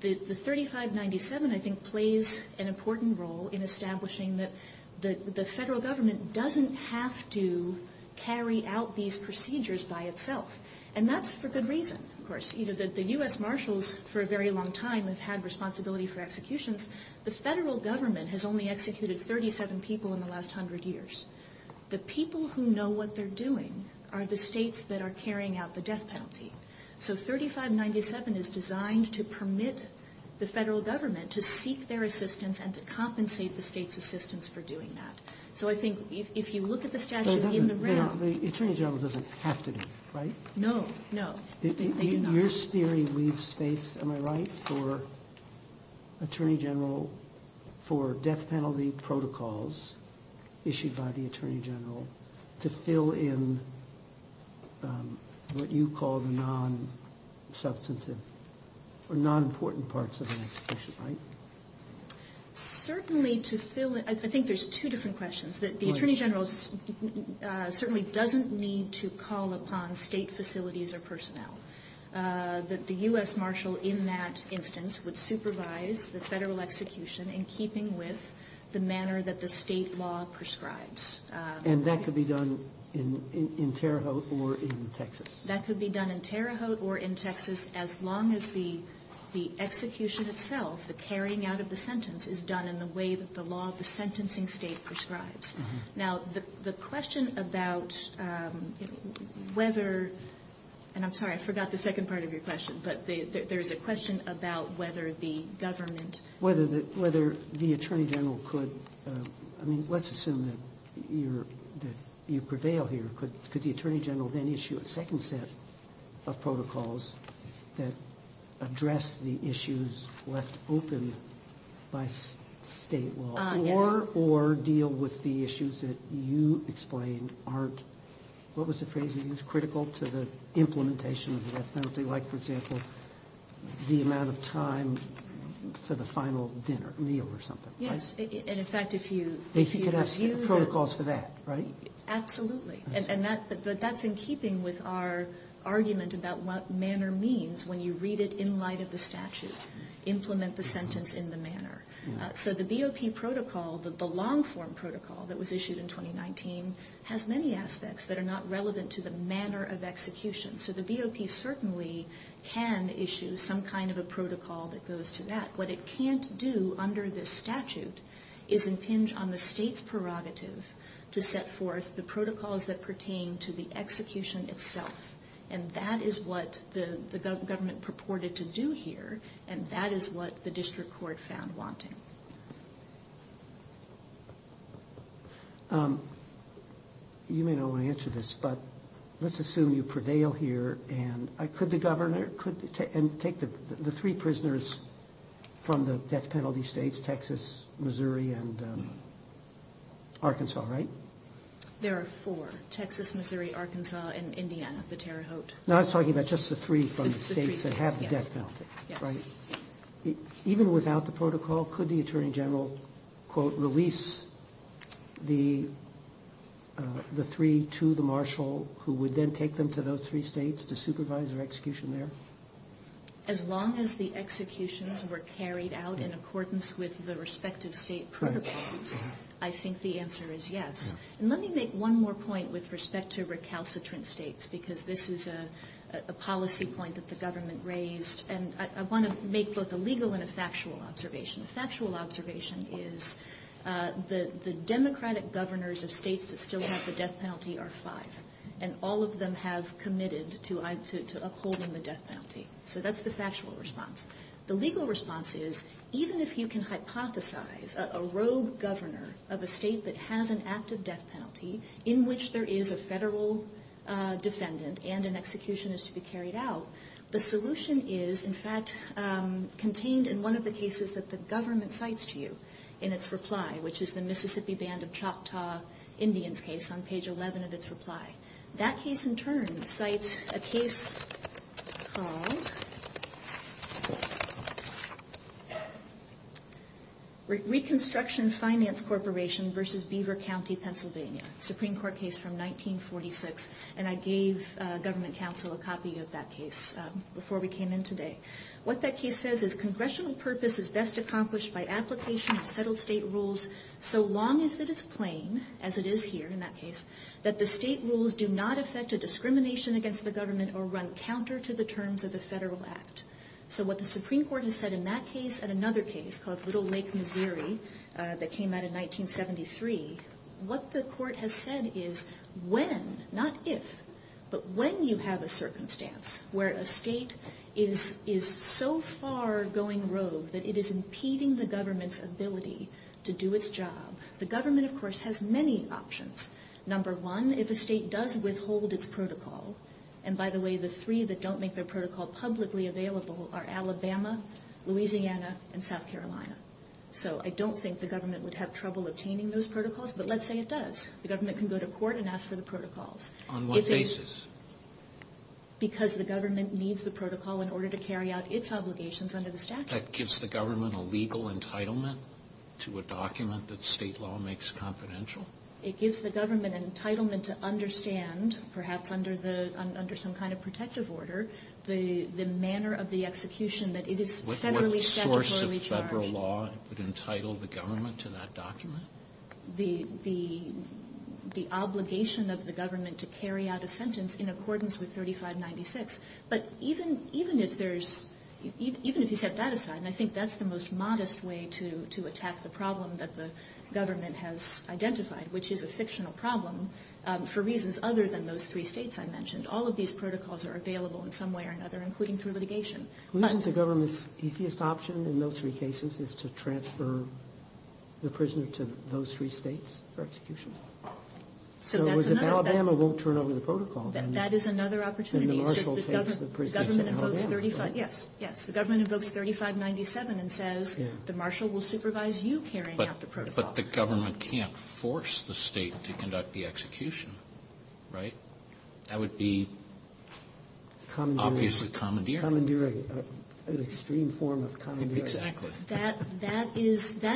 The 3597, I think, plays an important role in establishing that the federal government doesn't have to carry out these procedures by itself. And that's for good reason, of course. The U.S. Marshals, for a very long time, have had responsibility for executions. The federal government has only executed 37 people in the last 100 years. The people who know what they're doing are the states that are carrying out the death penalty. So 3597 is designed to permit the federal government to seek their assistance and to compensate the states' assistance for doing that. So I think if you look at the statute in the ground... The Attorney General doesn't have to do it, right? No, no. Your theory leaves space, am I right, for Attorney General, for death penalty protocols issued by the Attorney General to fill in what you call the non-substantive or non-important parts of an execution, right? Certainly to fill in... I think there's two different questions. The Attorney General certainly doesn't need to call upon state facilities or personnel. The U.S. Marshal, in that instance, would supervise the federal execution in keeping with the manner that the state law prescribes. And that could be done in Terre Haute or in Texas? That could be done in Terre Haute or in Texas as long as the execution itself, the carrying out of the sentence, is done in the way that the law of the sentencing state prescribes. Now, the question about whether... and I'm sorry, I forgot the second part of your question, but there's a question about whether the government... whether the Attorney General could... I mean, let's assume that you prevail here. Could the Attorney General then issue a second set of protocols that address the issues left open by state law or deal with the issues that you explained aren't... what was the phrase you used? ...critical to the implementation of the... like, for example, the amount of time for the final dinner, meal or something. Yes, and in fact, if you... If you could ask him the protocols for that, right? Absolutely, and that's in keeping with our argument about what manner means when you read it in light of the statute. Implement the sentence in the manner. So the BOP protocol, the long-form protocol that was issued in 2019, has many aspects that are not relevant to the manner of execution. So the BOP certainly can issue some kind of a protocol that goes to that. What it can't do under this statute is impinge on the state's prerogatives to set forth the protocols that pertain to the execution itself, and that is what the government purported to do here, and that is what the district court found wanting. You may not want to answer this, but let's assume you prevail here, and could the governor take the three prisoners from the death penalty states, Texas, Missouri, and Arkansas, right? There are four. Texas, Missouri, Arkansas, and Indiana, the Terre Haute. No, I'm talking about just the three from the states that have the death penalty, right? Even without the protocol, could the attorney general, quote, release the three to the marshal who would then take them to those three states to supervise their execution there? As long as the executions were carried out in accordance with the respective state protocols, I think the answer is yes. And let me make one more point with respect to recalcitrant states, because this is a policy point that the government raised, and I want to make both a legal and a factual observation. The factual observation is that the democratic governors of states that still have the death penalty are five, and all of them have committed to upholding the death penalty. So that's the factual response. The legal response is, even if you can hypothesize a rogue governor of a state that has an active death penalty, in which there is a federal defendant and an execution is to be carried out, the solution is, in fact, contained in one of the cases that the government cites to you in its reply, which is the Mississippi Band of Choctaw Indians case on page 11 of its reply. That case, in turn, cites a case called Reconstruction Finance Corporation v. Beaver County, Pennsylvania, a Supreme Court case from 1946, and I gave government counsel a copy of that case before we came in today. What that case says is, Congressional purpose is best accomplished by application of federal state rules so long as it is plain, as it is here in that case, that the state rules do not affect a discrimination against the government or run counter to the terms of the federal act. So what the Supreme Court has said in that case and another case called Little Lake, Missouri, that came out in 1973, what the court has said is when, not if, but when you have a circumstance where a state is so far going rogue that it is impeding the government's ability to do its job, the government, of course, has many options. Number one, if a state does withhold its protocol, and by the way, the three that don't make their protocol publicly available are Alabama, Louisiana, and South Carolina. So I don't think the government would have trouble obtaining those protocols, but let's say it does. The government can go to court and ask for the protocols. On what basis? Because the government needs the protocol in order to carry out its obligations under the statute. That gives the government a legal entitlement to a document that state law makes confidential? It gives the government an entitlement to understand, perhaps under some kind of protective order, the manner of the execution that it is federally statutory. What source of federal law would entitle the government to that document? The obligation of the government to carry out a sentence in accordance with 3596. But even if you set that aside, I think that's the most modest way to attack the problem that the government has identified, which is a fictional problem for reasons other than those three states I mentioned. All of these protocols are available in some way or another, including through litigation. Do you think the government's easiest option in those three cases is to transfer the prisoners to those three states for execution? So that's another opportunity. So if it was Alabama, it won't turn over the protocol. That is another opportunity. The government invokes 3597 and says, the marshal will supervise you carrying out the protocol. But the government can't force the state to conduct the execution, right? That would be obviously commandeering. Commandeering. An extreme form of commandeering. Exactly. That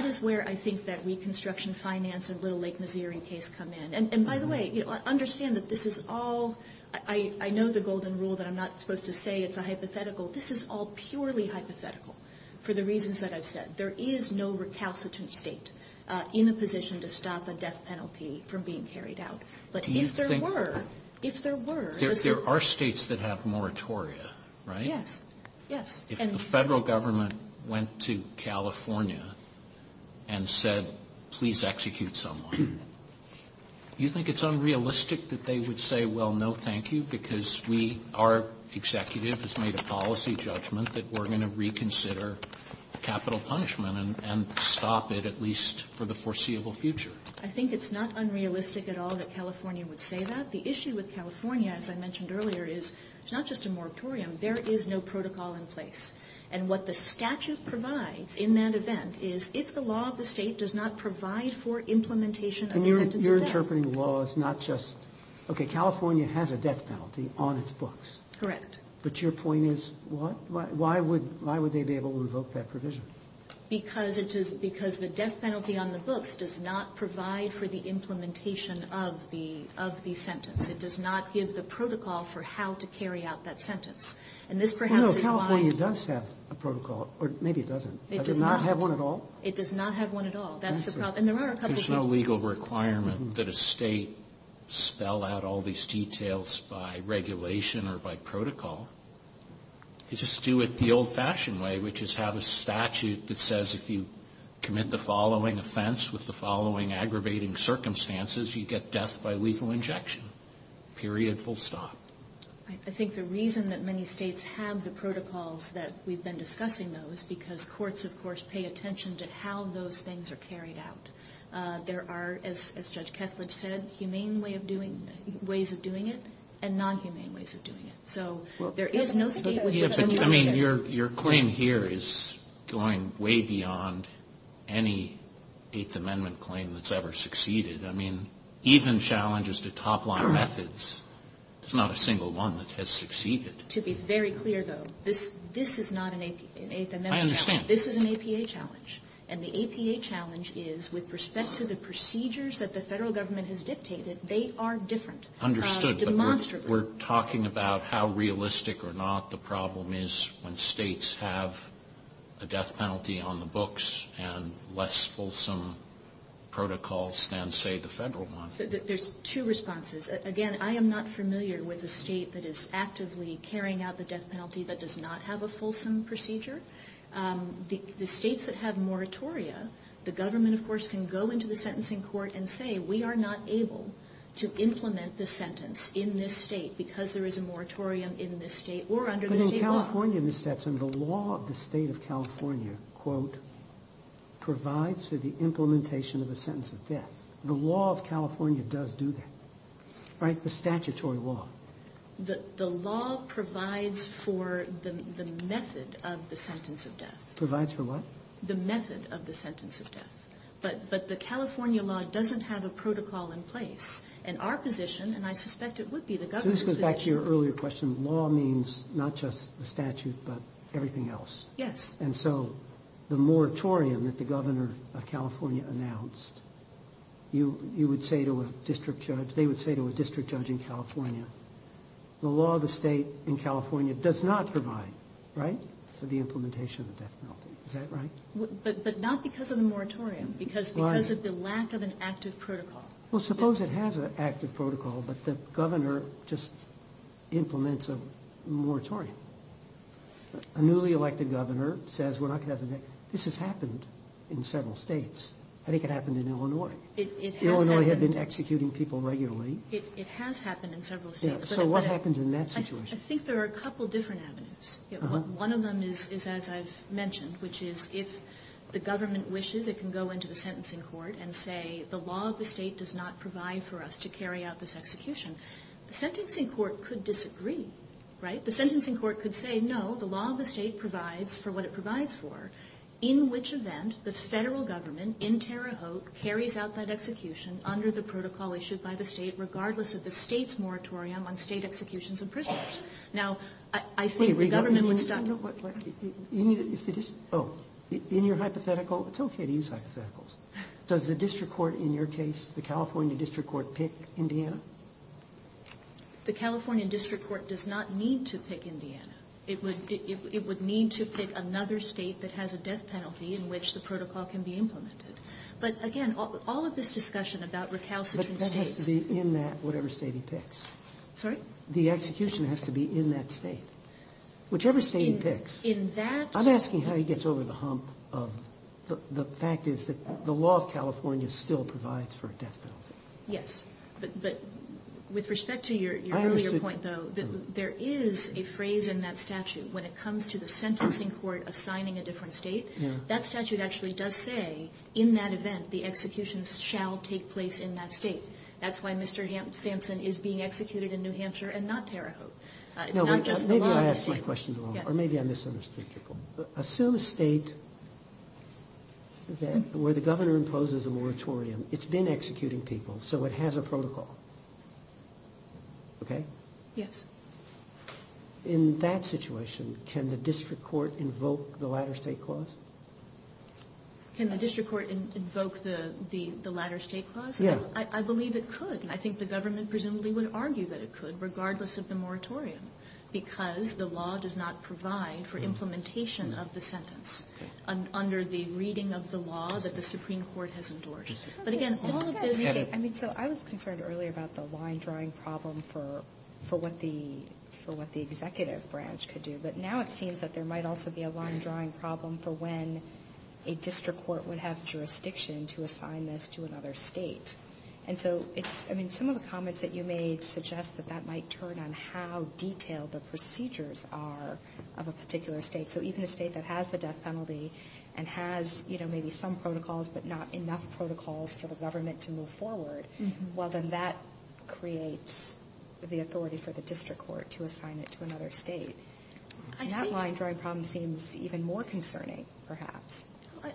is where I think that Reconstruction Finance and Little Lake Mazeering case come in. And by the way, understand that this is all – I know the golden rule that I'm not supposed to say is a hypothetical. This is all purely hypothetical for the reasons that I've said. There is no recalcitrant state in a position to stop a death penalty from being carried out. But if there were, if there were. There are states that have moratoria, right? Yes, yes. If the federal government went to California and said, please execute someone, do you think it's unrealistic that they would say, well, no, thank you, because our executive has made a policy judgment that we're going to reconsider capital punishment and stop it at least for the foreseeable future? I think it's not unrealistic at all that California would say that. The issue with California, as I mentioned earlier, is it's not just a moratorium. There is no protocol in place. And what the statute provides in that event is if the law of the state does not provide for implementation of the event of the death. And you're interpreting the law as not just, okay, California has a death penalty on its books. Correct. But your point is why would they be able to revoke that provision? Because the death penalty on the books does not provide for the implementation of the sentence. It does not give the protocol for how to carry out that sentence. No, California does have a protocol, or maybe it doesn't. It does not. It does not have one at all? It does not have one at all. And there are a couple of things. There's no legal requirement that a state spell out all these details by regulation or by protocol. You just do it the old-fashioned way, which is have a statute that says if you commit the following offense with the following aggravating circumstances, you get death by lethal injection, period, full stop. I think the reason that many states have the protocols that we've been discussing, though, is because courts, of course, pay attention to how those things are carried out. There are, as Judge Ketledge said, humane ways of doing it and non-humane ways of doing it. Your claim here is going way beyond any Eighth Amendment claim that's ever succeeded. I mean, even challenges to top-line methods, there's not a single one that has succeeded. To be very clear, though, this is not an Eighth Amendment challenge. I understand. This is an APA challenge. And the APA challenge is, with respect to the procedures that the federal government has dictated, they are different. Understood. We're talking about how realistic or not the problem is when states have a death penalty on the books and less fulsome protocols than, say, the federal government. There's two responses. Again, I am not familiar with a state that is actively carrying out the death penalty that does not have a fulsome procedure. The states that have moratoria, the government, of course, can go into the sentencing court and say, we are not able to implement the sentence in this state because there is a moratorium in this state or under the state law. But in California, Ms. Stepson, the law of the state of California, quote, provides for the implementation of the sentence of death. The law of California does do that, right? The statutory law. The law provides for the method of the sentence of death. Provides for what? The method of the sentence of death. But the California law doesn't have a protocol in place. And our position, and I suspect it would be the governor's position. This goes back to your earlier question. Law means not just the statute but everything else. Yes. And so the moratorium that the governor of California announced, you would say to a district judge, they would say to a district judge in California, the law of the state in California does not provide, right, for the implementation of the death penalty. Is that right? But not because of the moratorium. Why? Because of the lack of an active protocol. Well, suppose it has an active protocol but the governor just implements a moratorium. A newly elected governor says we're not going to have the death penalty. This has happened in several states. I think it happened in Illinois. It has happened. Illinois had been executing people regularly. It has happened in several states. So what happens in that situation? I think there are a couple different avenues. One of them is, as I've mentioned, which is if the government wishes it can go into the sentencing court and say the law of the state does not provide for us to carry out this execution. The sentencing court could disagree, right? The sentencing court could say, no, the law of the state provides for what it provides for, in which event the federal government in Terre Haute carries out that execution under the protocol issued by the state, regardless of the state's moratorium on state executions of prisoners. Now, I think the government would stop... Wait a minute. Oh, in your hypothetical, it's okay to use hypotheticals. Does the district court in your case, the California district court, pick Indiana? The California district court does not need to pick Indiana. It would need to pick another state that has a death penalty in which the protocol can be implemented. But, again, all of this discussion about recalcitrant states... But that has to be in that whatever state it picks. Sorry? The execution has to be in that state, whichever state it picks. In that... I'm asking how he gets over the hump of the fact is that the law of California still provides for a death penalty. Yes, but with respect to your earlier point, though, there is a phrase in that statute when it comes to the sentencing court assigning a different state. That statute actually does say, in that event, the execution shall take place in that state. That's why Mr. Sampson is being executed in New Hampshire and not Tarahoe. Maybe I asked you a question wrong, or maybe I misunderstood your question. Assume a state where the governor imposes a moratorium. It's been executing people, so it has a protocol. Okay? Yes. In that situation, can the district court invoke the latter state clause? Can the district court invoke the latter state clause? Yes. I believe it could, and I think the government presumably would argue that it could, regardless of the moratorium, because the law does not provide for implementation of the sentence under the reading of the law that the Supreme Court has endorsed. But, again, all of the... I mean, so I was concerned earlier about the line-drawing problem for what the executive branch could do, but now it seems that there might also be a line-drawing problem for when a district court would have jurisdiction to assign this to another state. And so, I mean, some of the comments that you made suggest that that might turn on how detailed the procedures are of a particular state. So even a state that has the death penalty and has, you know, maybe some protocols but not enough protocols for the government to move forward, well, then that creates the authority for the district court to assign it to another state. And that line-drawing problem seems even more concerning, perhaps.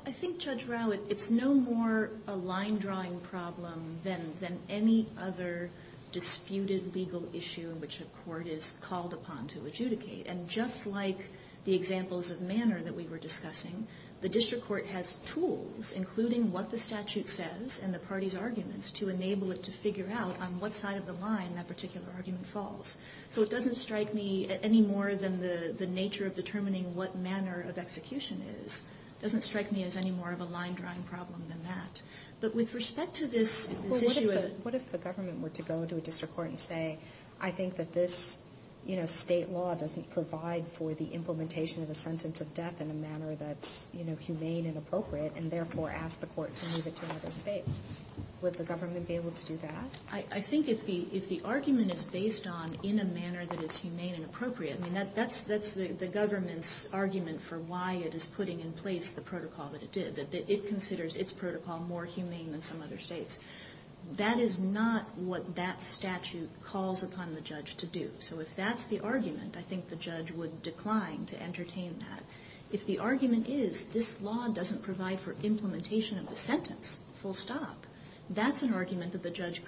I think, Judge Rowe, it's no more a line-drawing problem than any other disputed legal issue in which a court is called upon to adjudicate. And just like the examples of manner that we were discussing, the district court has tools, including what the statute says and the party's arguments, to enable it to figure out on what side of the line that particular argument falls. So it doesn't strike me any more than the nature of determining what manner of execution is. It doesn't strike me as any more of a line-drawing problem than that. But with respect to this issue of... Well, what if the government were to go to a district court and say, I think that this, you know, state law doesn't provide for the implementation of a sentence of death in a manner that's, you know, humane and appropriate, and therefore ask the court to move it to another state? Would the government be able to do that? I think if the argument is based on in a manner that is humane and appropriate, I mean, that's the government's argument for why it is putting in place the protocol that it did, that it considers its protocol more humane than some other states. That is not what that statute calls upon the judge to do. So if that's the argument, I think the judge would decline to entertain that. If the argument is, this law doesn't provide for implementation of the sentence, full stop, that's an argument that the judge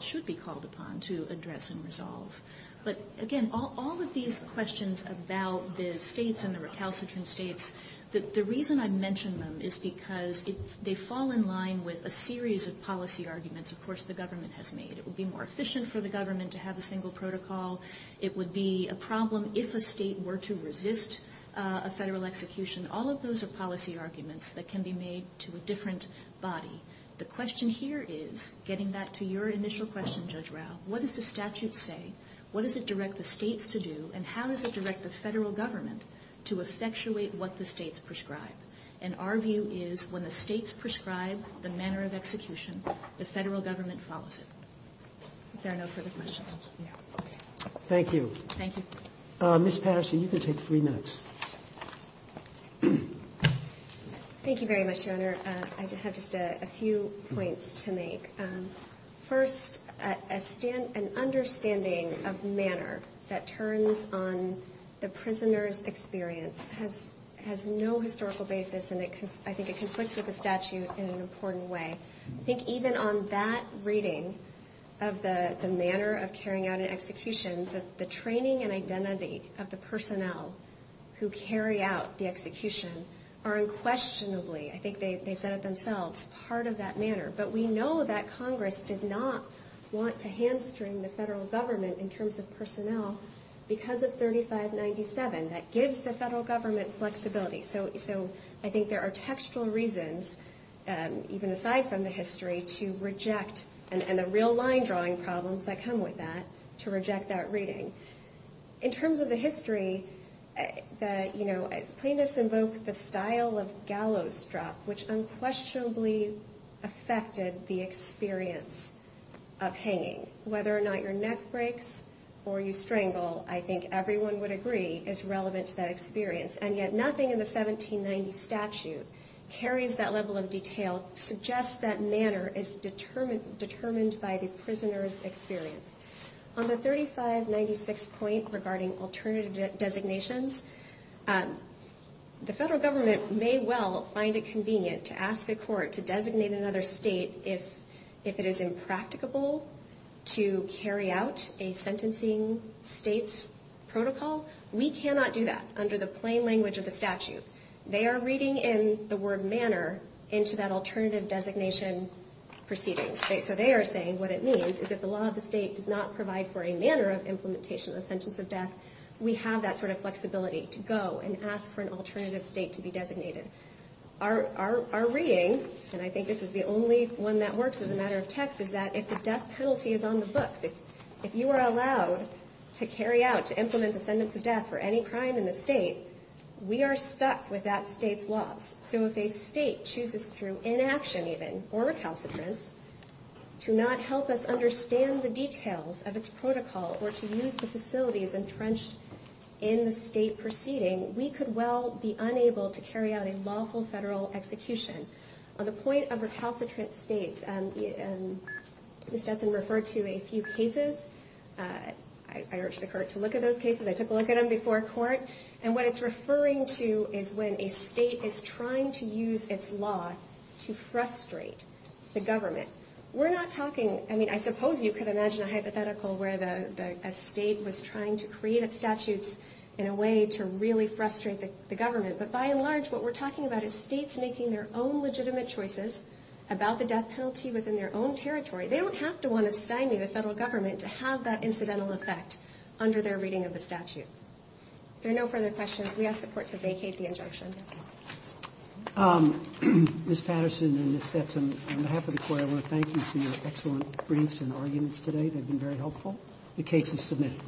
should be called upon to address and resolve. But, again, all of these questions about the states and the recalcitrant states, the reason I mention them is because they fall in line with a series of policy arguments, of course, the government has made. It would be more efficient for the government to have a single protocol. It would be a problem if a state were to resist a federal execution. All of those are policy arguments that can be made to a different body. The question here is, getting back to your initial question, Judge Rao, what does the statute say, what does it direct the states to do, and how does it direct the federal government to effectuate what the states prescribe? And our view is when the states prescribe the manner of execution, the federal government follows it. Is there no further questions? Thank you. Thank you. Ms. Paster, you can take three minutes. Thank you very much, Your Honor. I have just a few points to make. First, an understanding of manner that turns on the prisoner's experience has no historical basis, and I think it conflicts with the statute in an important way. I think even on that reading of the manner of carrying out an execution, the training and identity of the personnel who carry out the execution are unquestionably, I think they said it themselves, part of that manner. But we know that Congress did not want to hamstring the federal government in terms of personnel because of 3597. That gives the federal government flexibility. So I think there are textual reasons, even aside from the history, to reject, and the real line-drawing problems that come with that, to reject that reading. In terms of the history, plaintiffs invoked the style of gallows drop, which unquestionably affected the experience of hanging. Whether or not your neck breaks or you strangle, I think everyone would agree, is relevant to that experience, and yet nothing in the 1790 statute carries that level of detail to suggest that manner is determined by the prisoner's experience. On the 3596 point regarding alternative designations, the federal government may well find it convenient to ask the court to designate another state if it is impracticable to carry out a sentencing state's protocol. We cannot do that under the plain language of the statute. They are reading in the word manner into that alternative designation proceedings. So they are saying what it means is that the law of the state does not provide for a manner of implementation of the sentence of death. We have that sort of flexibility to go and ask for an alternative state to be designated. Our reading, and I think this is the only one that works as a matter of text, is that if the death penalty is on the book, if you are allowed to carry out, to implement the sentence of death for any crime in the state, we are stuck with that state's law. So if a state chooses through inaction, even, for a calcitrant to not help us understand the details of its protocol or to use the facilities entrenched in the state proceeding, we could well be unable to carry out a lawful federal execution. On the point of the calcitrant states, this has been referred to in a few cases. I wrote to the court to look at those cases. I took a look at them before court. And what it's referring to is when a state is trying to use its law to frustrate the government. We're not talking, I mean, I suppose you could imagine a hypothetical where a state was trying to create a statute in a way to really frustrate the government. But by and large, what we're talking about is states making their own legitimate choices about the death penalty within their own territory. They don't have to want to stymie the federal government to have that incidental effect under their reading of the statute. There are no further questions. We ask the court to vacate the interaction. Ms. Patterson and Ms. Bettson, on behalf of the court, I want to thank you for your excellent briefs and arguments today. They've been very helpful. The case is submitted.